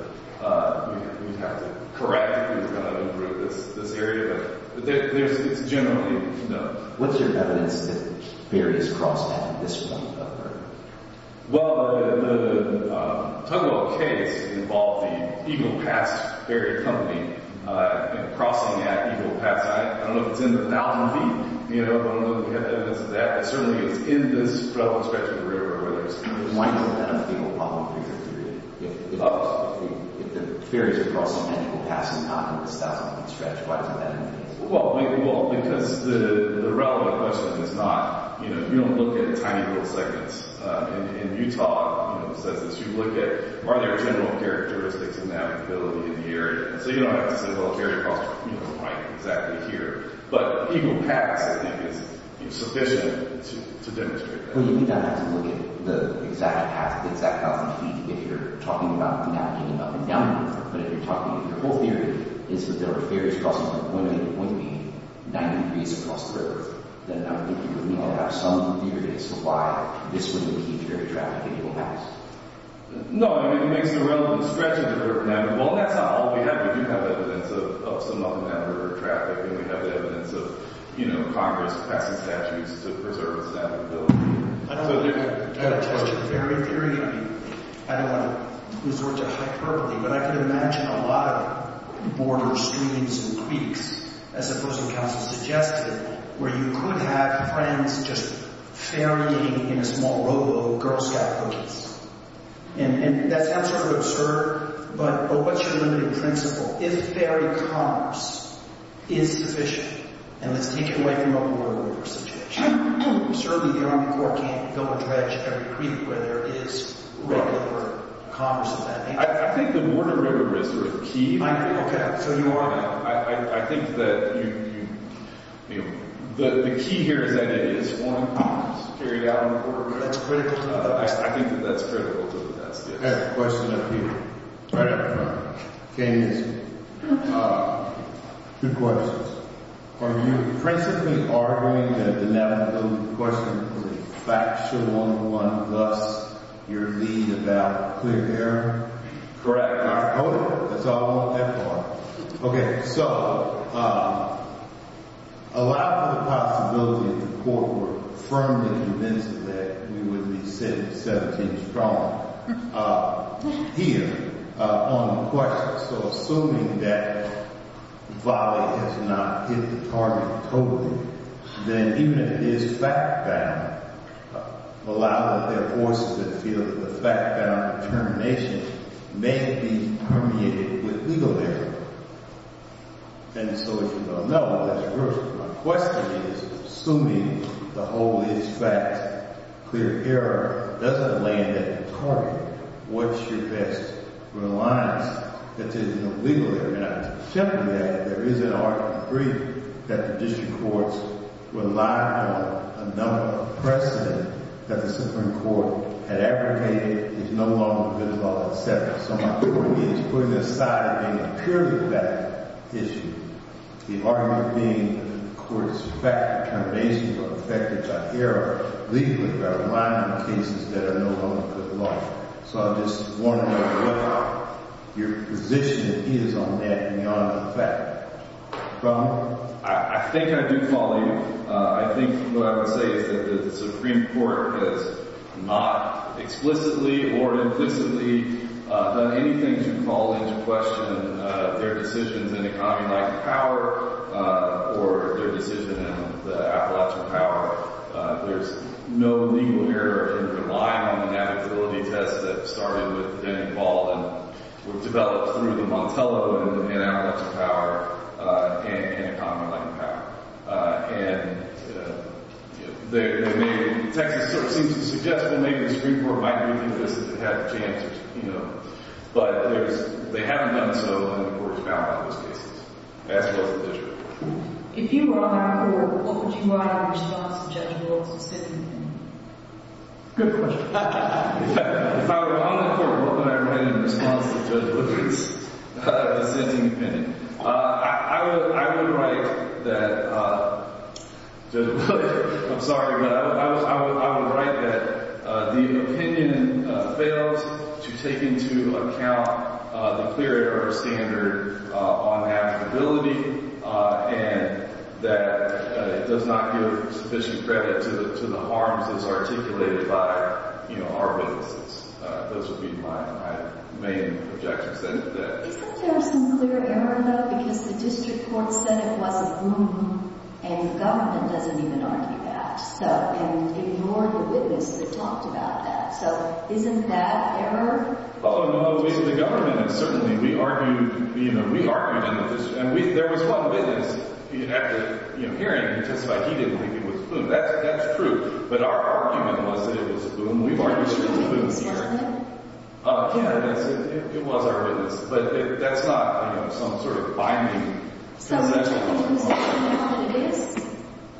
correct if we're going to improve this area. But it's generally known. What's your evidence that ferries cross at this point? Well, the Tugwell case involved the Eagle Pass Ferry Company crossing at Eagle Pass. I don't know if it's in the fountain feet. I don't know if we have evidence of that. But certainly it was in this stretch of the river where there was— Why do you think that would be a problem for your theory? If the ferries are crossing at Eagle Pass and not in this stretch, why do you think that would be a problem? Well, because the relevant question is not—you don't look at tiny little segments. In Utah, it says that you look at, are there general characteristics of navigability in the area? So you don't have to say, well, carry across right exactly here. But Eagle Pass, I think, is sufficient to demonstrate that. Well, you do not have to look at the exact path, the exact fountain feet if you're talking about navigating up and down the river. But if you're talking—your whole theory is that there are ferries crossing at one end and one end 90 degrees across the river, then I would think you would need to have some theory as to why this would be a key ferry traffic at Eagle Pass. No, I mean, it makes no relevant stretch of the river. Well, that's not all we have. We do have evidence of some up-and-down river traffic, and we have evidence of Congress passing statutes to preserve its navigability. I don't want to test your theory. I don't want to resort to hyperbole. But I can imagine a lot of borders, streams, and creeks, as the opposing counsel suggested, where you could have friends just ferrying in a small rowboat Girl Scout cookies. And that sounds sort of absurd, but what's your limited principle? If ferry commerce is sufficient, and let's take it away from the open-water river situation, certainly the Army Corps can't go and dredge every creek where there is regular commerce of that nature. I think the border river is sort of key. I agree. Okay, so you are— I think that you—the key here is that it is one commerce carried out on the border river. That's critical to the test. I think that that's critical to the test. I have a question up here, right up in front of me. Okay, nice. Two questions. Are you principally arguing that the navigability question is a factual one, thus your lead is about clear air? Correct? All right, hold on. That's all? That part. Okay, so a lot of the possibilities in court were firmly convinced that we would be sitting 17 strong here on the question. So assuming that volley has not hit the target totally, then even if it is fact-bound, a lot of their voices that feel that the fact-bound determination may be permeated with legal error. And so if you don't know, that's worse. My question is, assuming the whole is fact, clear air doesn't land at the target, what's your best reliance that there's no legal error? And I would say simply that there is an argument to agree that the district courts rely on a number of precedent that the Supreme Court had advocated is no longer good law, et cetera. So my point is, putting aside a purely fact issue, the argument being that the court is fact-bound determination, but the fact that there's an error legally that aligns with cases that are no longer good law. So I'm just wondering what your position is on that beyond the fact. I think I do follow you. I think what I would say is that the Supreme Court has not explicitly or implicitly done anything to call into question their decisions in economy-like power or their decision in the Appalachian Power. There's no legal error in relying on the navigability test that started with Denning Ball and developed through the Montello in Appalachian Power and economy-like power. And the Texas court seems to suggest that maybe the Supreme Court might do this if it had the chance. But they haven't done so, and the court is bound on those cases, as well as the district. If you were on our court, what would you write in response to Judge Wolf's dissenting opinion? Good question. If I were on the court, what would I write in response to Judge Wolf's dissenting opinion? I would write that the opinion fails to take into account the clear error standard on navigability and that it does not give sufficient credit to the harms that's articulated by our witnesses. Those would be my main objections. Isn't there some clear error, though? Because the district court said it was a boom, and the government doesn't even argue that and ignored the witness that talked about that. So isn't that error? Oh, no. The government certainly, we argued in the district. And there was one witness. You'd have to hear him, just like he didn't think it was a boom. That's true. But our argument was that it was a boom. We've argued that it was a boom. Yeah, it was our witness. But that's not some sort of binding consensus.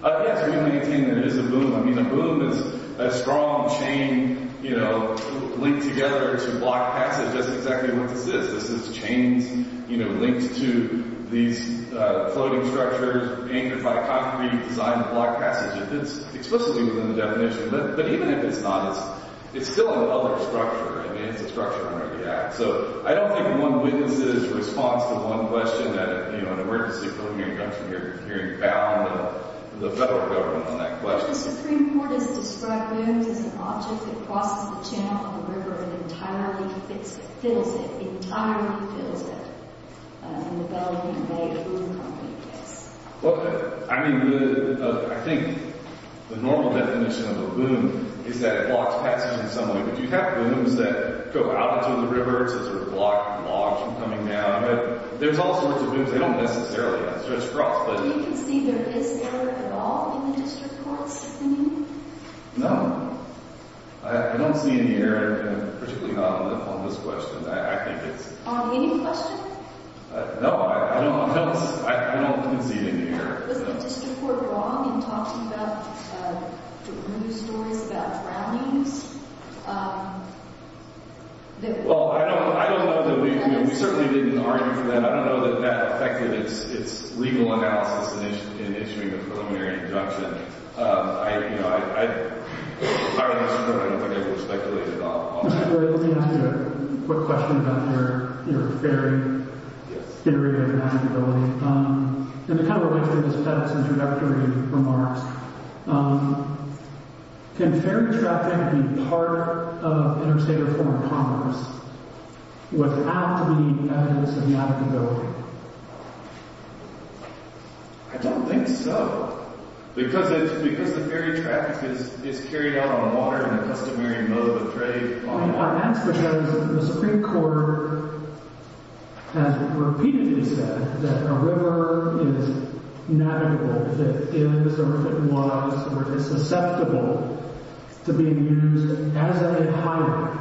Yes, we maintain that it is a boom. I mean, a boom is a strong chain linked together. It's a block passage. That's exactly what this is. This is chains linked to these floating structures anchored by concrete designed to block passage. It's explicitly within the definition. But even if it's not, it's still another structure. I mean, it's a structure under the Act. So I don't think one witness's response to one question that, you know, an emergency hearing comes from your hearing bound the federal government on that question. The Supreme Court has described booms as an object that crosses the channel on the river and entirely fills it. Entirely fills it. In the Bellevue Bay Boom Company case. Well, I mean, I think the normal definition of a boom is that it blocks passage in some way. But you have booms that go out into the river. It's sort of blocked and blocked from coming down. There's all sorts of booms. They don't necessarily stretch across. Do you concede there is error at all in the district courts opinion? No. I don't see any error, particularly not on this question. I think it's... Any question? No. No. I don't concede any error. Was the district court wrong in talking about the boom stories about drownings? Well, I don't know that we... We certainly didn't argue for that. I don't know that that affected its legal analysis in issuing the preliminary injunction. You know, I... I don't think I can speculate at all. Mr. Gray, let me ask you a quick question about your ferry. Yes. Theory of navigability. And it kind of relates to Ms. Pettit's introductory remarks. Can ferry traffic be part of interstate or foreign commerce without the evidence of navigability? I don't think so. Because it's... Because the ferry traffic is carried out on water in a customary mode of trade on water... I mean, that's because the Supreme Court has repeatedly said that a river is navigable, that it is or if it was or is susceptible to being used as a pilot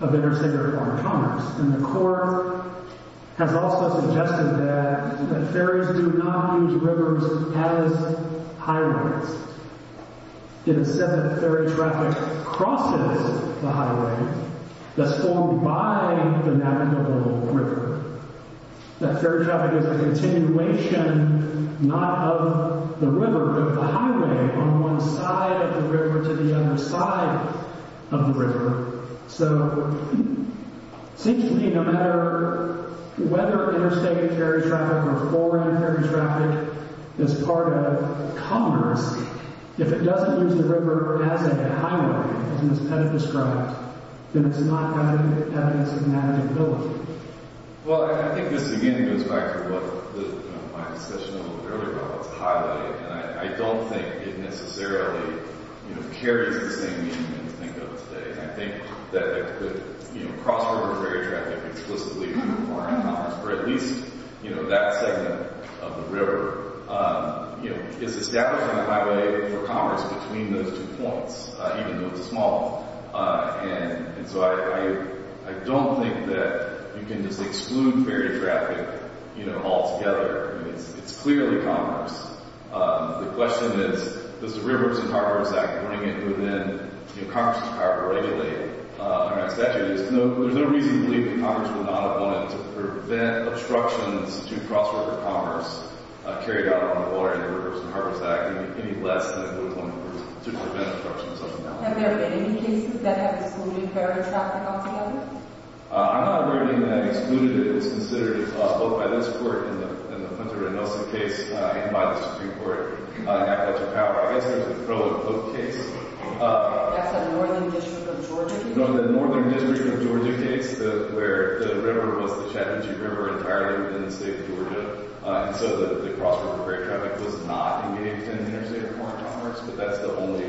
of interstate or foreign commerce. And the court has also suggested that ferries do not use rivers as highways. It is said that ferry traffic crosses the highway that's formed by the navigable river. That ferry traffic is a continuation not of the river but the highway on one side of the river to the other side of the river. So it seems to me no matter whether interstate ferry traffic or foreign ferry traffic is part of commerce, if it doesn't use the river as a highway, as Ms. Pettit described, then it's not evidence of navigability. Well, I think this again goes back to what my discussion a little bit earlier about what's a highway. And I don't think it necessarily carries the same meaning that we think of today. I think that cross-river ferry traffic explicitly in foreign commerce or at least that segment of the river is establishing a highway for commerce between those two points, even though it's small. And so I don't think that you can just exclude ferry traffic altogether. It's clearly commerce. The question is, does the Rivers and Harbors Act bring it within the Congress's power to regulate our statute? There's no reason to believe that Congress would not have wanted to prevent obstructions to cross-river commerce carried out on the water in the Rivers and Harbors Act any less than it would have wanted to prevent obstructions. Have there been any cases that have excluded ferry traffic altogether? I'm not aware of any that have excluded it. It's considered both by this Court in the Punter and Nelson case and by the Supreme Court. I guess there's the Crow and Pope case. That's the Northern District of Georgia case? No, the Northern District of Georgia case, where the river was the Chattanooga River entirely within the state of Georgia. And so the cross-river ferry traffic was not engaged in interstate foreign commerce. But that's the only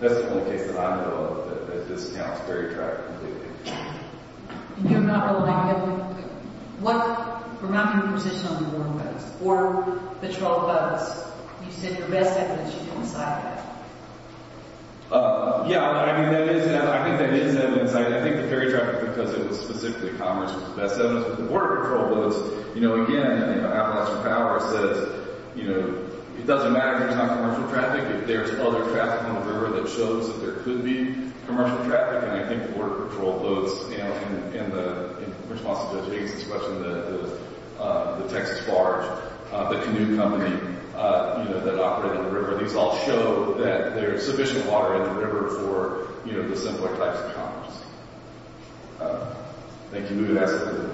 case that I know of that discounts ferry traffic completely. And you're not aware of any other? We're not in a position on the border patrol bus. You said the best evidence you can decide that. Yeah, I think that is evidence. I think the ferry traffic, because it was specifically commerce, was the best evidence. But the border patrol bus, again, I think the outlaw's power says, it doesn't matter if there's not commercial traffic, if there's other traffic on the river that shows that there could be commercial traffic. And I think border patrol boats, in response to Jason's question, the Texas Barge, the canoe company that operated in the river, these all show that there's sufficient water in the river for the simpler types of commerce. Thank you.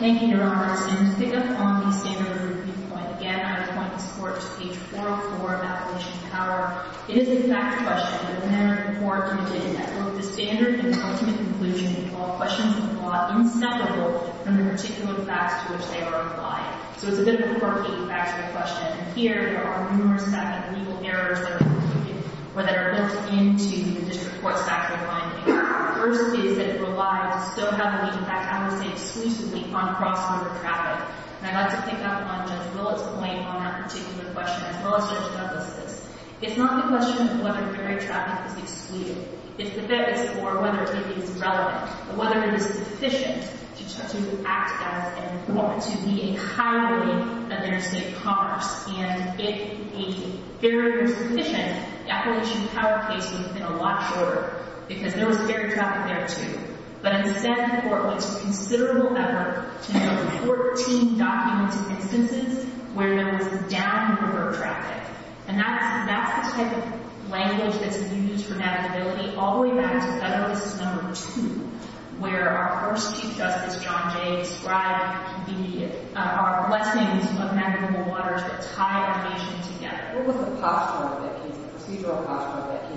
Thank you, Your Honor. So to pick up on the standard review point, again, I would point this Court to page 404 of Appellation of Power. It is a fact question, but the manner in which the Court did it, that both the standard and the ultimate conclusion involve questions that are a lot inseparable from the particular facts to which they are applying. So it's a bit of a cork-eating, fact-check question. And here, there are numerous legal errors that are included or that are built into the District Court's fact-aligning. The first is that it relies so heavily, in fact, I would say exclusively, on cross-river traffic. And I'd like to pick up on Judge Willett's point on that particular question as well as Judge Douglas's. It's not the question of whether ferry traffic is excluded. It's whether it is relevant, whether it is sufficient to act as and want to be a highway at the Interstate Commerce. And if a ferry was sufficient, the Appellation of Power case would have been a lot shorter because there was ferry traffic there, too. But instead, the Court went to considerable effort to note 14 documents and instances where there was downriver traffic. And that's the type of language that's been used for navigability all the way back to Federal Cases No. 2, where our first Chief Justice, John Jay, described our question of navigable waters that tie our nation together. What was the procedural posture of that case?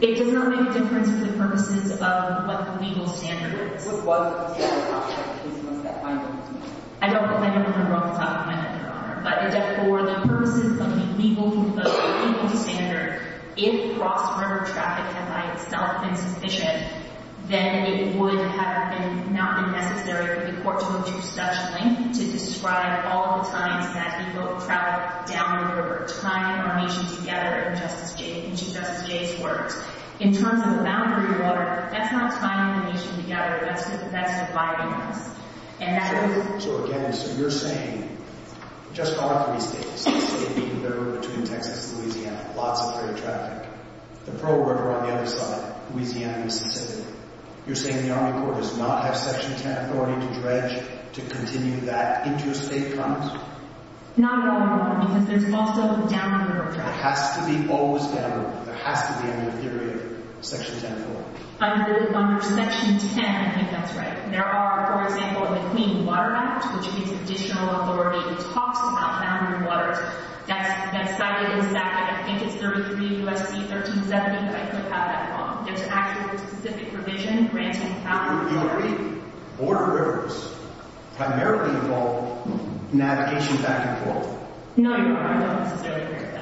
It does not make a difference for the purposes of what the legal standard is. What was the procedural posture of the case once that finding was made? I don't have anything on the top of my head, Your Honor. But for the purposes of the legal standard, if cross-river traffic had by itself been sufficient, then it would have not been necessary for the Court to go to such length to describe all the times that people have traveled downriver, tying our nation together in Chief Justice Jay's words. In terms of the boundary water, that's not tying the nation together, that's dividing us. So again, you're saying just on three states, the state being the river between Texas and Louisiana, lots of freighter traffic, the Pearl River on the other side, Louisiana, Mississippi, you're saying the Army Corps does not have Section 10 authority to dredge, to continue that into a state promise? Not at all, Your Honor, because there's also a downriver promise. There has to be always downriver. There has to be a new theory in Section 10. Under Section 10, I think that's right. There are, for example, in the Clean Water Act, which gives additional authority and talks about boundary waters, that study is I think it's 33 U.S.C. 1370 that I could have at home. There's actually a specific provision granting boundary waters. Boundary waters primarily involve navigation back and forth. No, Your Honor, I don't necessarily agree with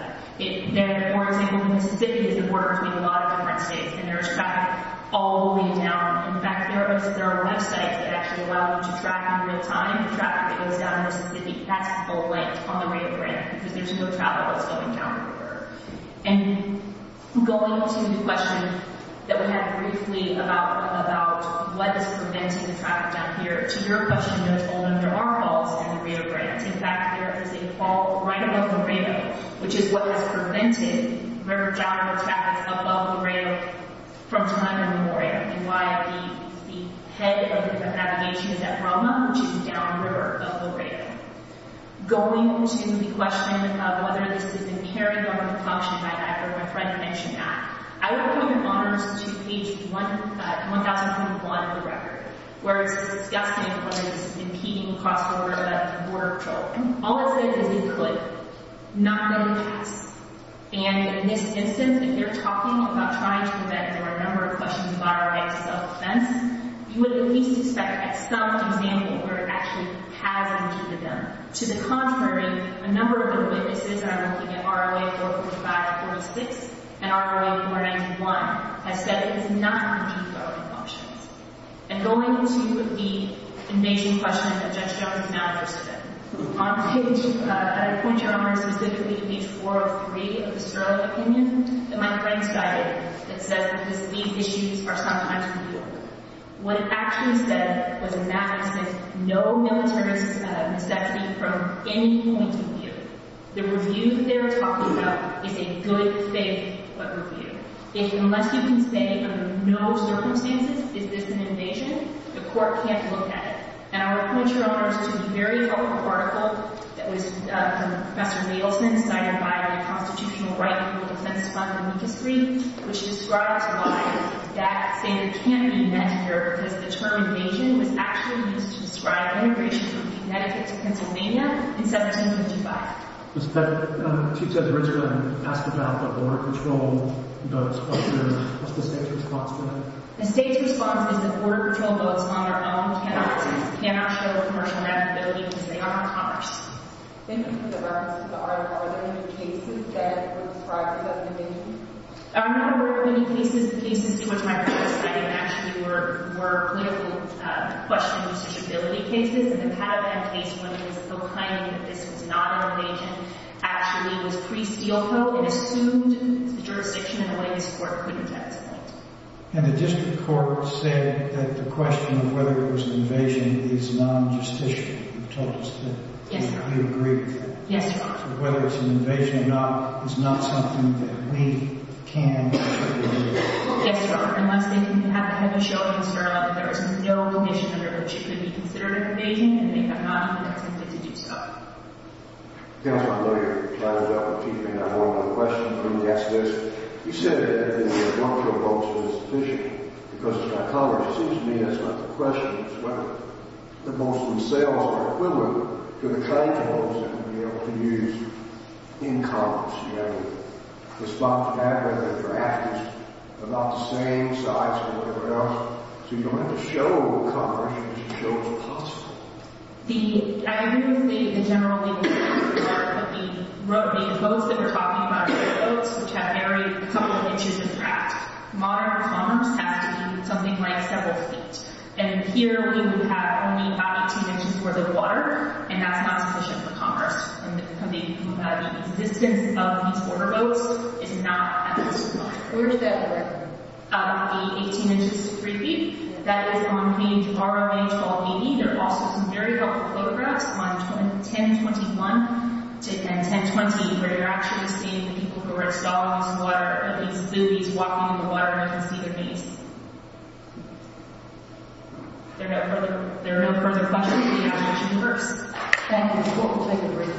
that. For example, in Mississippi, there's a border between a lot of different states, and there's traffic all the way down. In fact, there are websites that actually allow you to track in real time the traffic that goes down in Mississippi. That's a length on the way of downriver. And going to the question that we had briefly about what is preventing traffic down here to your question, Your Honor, there are faults in the Rio Grande. In fact, there is a fault right above the rail, which is what has prevented River John River traffic above the rail from time immemorial. And why the head of navigation is at Rama, which is downriver of the rail. Going to the question of whether this is impairing government function, my friend mentioned that. I would put you, Your Honor, to page 1021 of the record, where it's discussing whether this is impeding cross-border border control. All it says is include. Not really pass. And in this instance, if they're talking about trying to prevent, there are a number of questions about our right to self-defense, you would at least expect some example where it actually has impeded them. To the contrary, a number of the witnesses, and I'm looking at ROA 4546 and ROA 491, have said it is not impeding government functions. And going to the invasion question that Judge Jones announced today. On page, I would point you, Your Honor, specifically to page 403 of the Sterling Opinion that my friend cited that says that these issues are sometimes real. What it actually said was in that instance, no military is exempted from any point of view. The review that they're talking about is a good faith review. If, unless you can say, under no circumstances, is this an invasion, the court can't look at it. And I would point you, Your Honor, to a very helpful article that was from Professor Nielsen, cited by the Constitutional Right to Defense Fund in the history, which describes why that standard can't be met here, because the term invasion was actually used to describe an immigration from Connecticut to Pennsylvania in 1755. Ms. Petty, Chief Judge Rinsgren asked about the border patrol boats. What's the state's response to that? The state's response is that border patrol boats on their own cannot show commercial navigability because they are on commerce. Thank you for the reference. Are there any cases that would describe it as an invasion? There are not a number of any cases. The cases to which my friend is citing actually were political questions, cases that have had a case where the plaintiff is claiming that this was not an invasion actually was pre-Steelco. It assumed the jurisdiction in a way this court couldn't have explained. And the district court said that the question of whether it was an invasion is non-justicial. You told us that you agreed with that. Yes, Your Honor. Whether it's an invasion or not is not something that we can confirm. Yes, Your Honor. Unless they can have a show of hands there is no condition under which it could be considered an invasion and they have not intended to do so. Counsel, I know you're trying to develop a key point on one of the questions. Let me ask this. You said that the border patrol boats were insufficient because of psychology. It seems to me that's not the question as to whether the boats themselves are equivalent to the trade boats that we would be able to use in commerce. The response to that was that the drafters are not the same size or whatever else. So you don't have to show commerce but you should show what's possible. I agree with the general opinion of the court that the boats that we're talking about are the boats which have every couple of inches of draft. Modern commerce has to be something like several feet. And here we would have only about 18 inches worth of water and that's not sufficient for commerce. The existence of these border boats is not at this level. Where does that work? The 18 inches is 3 feet. That is on page ROA 1280. There are also some very helpful photographs on 1021 and 1020 where you're actually seeing the people who are installed in these buoys walking in the water and you can see their face. There are no further questions. Thank you.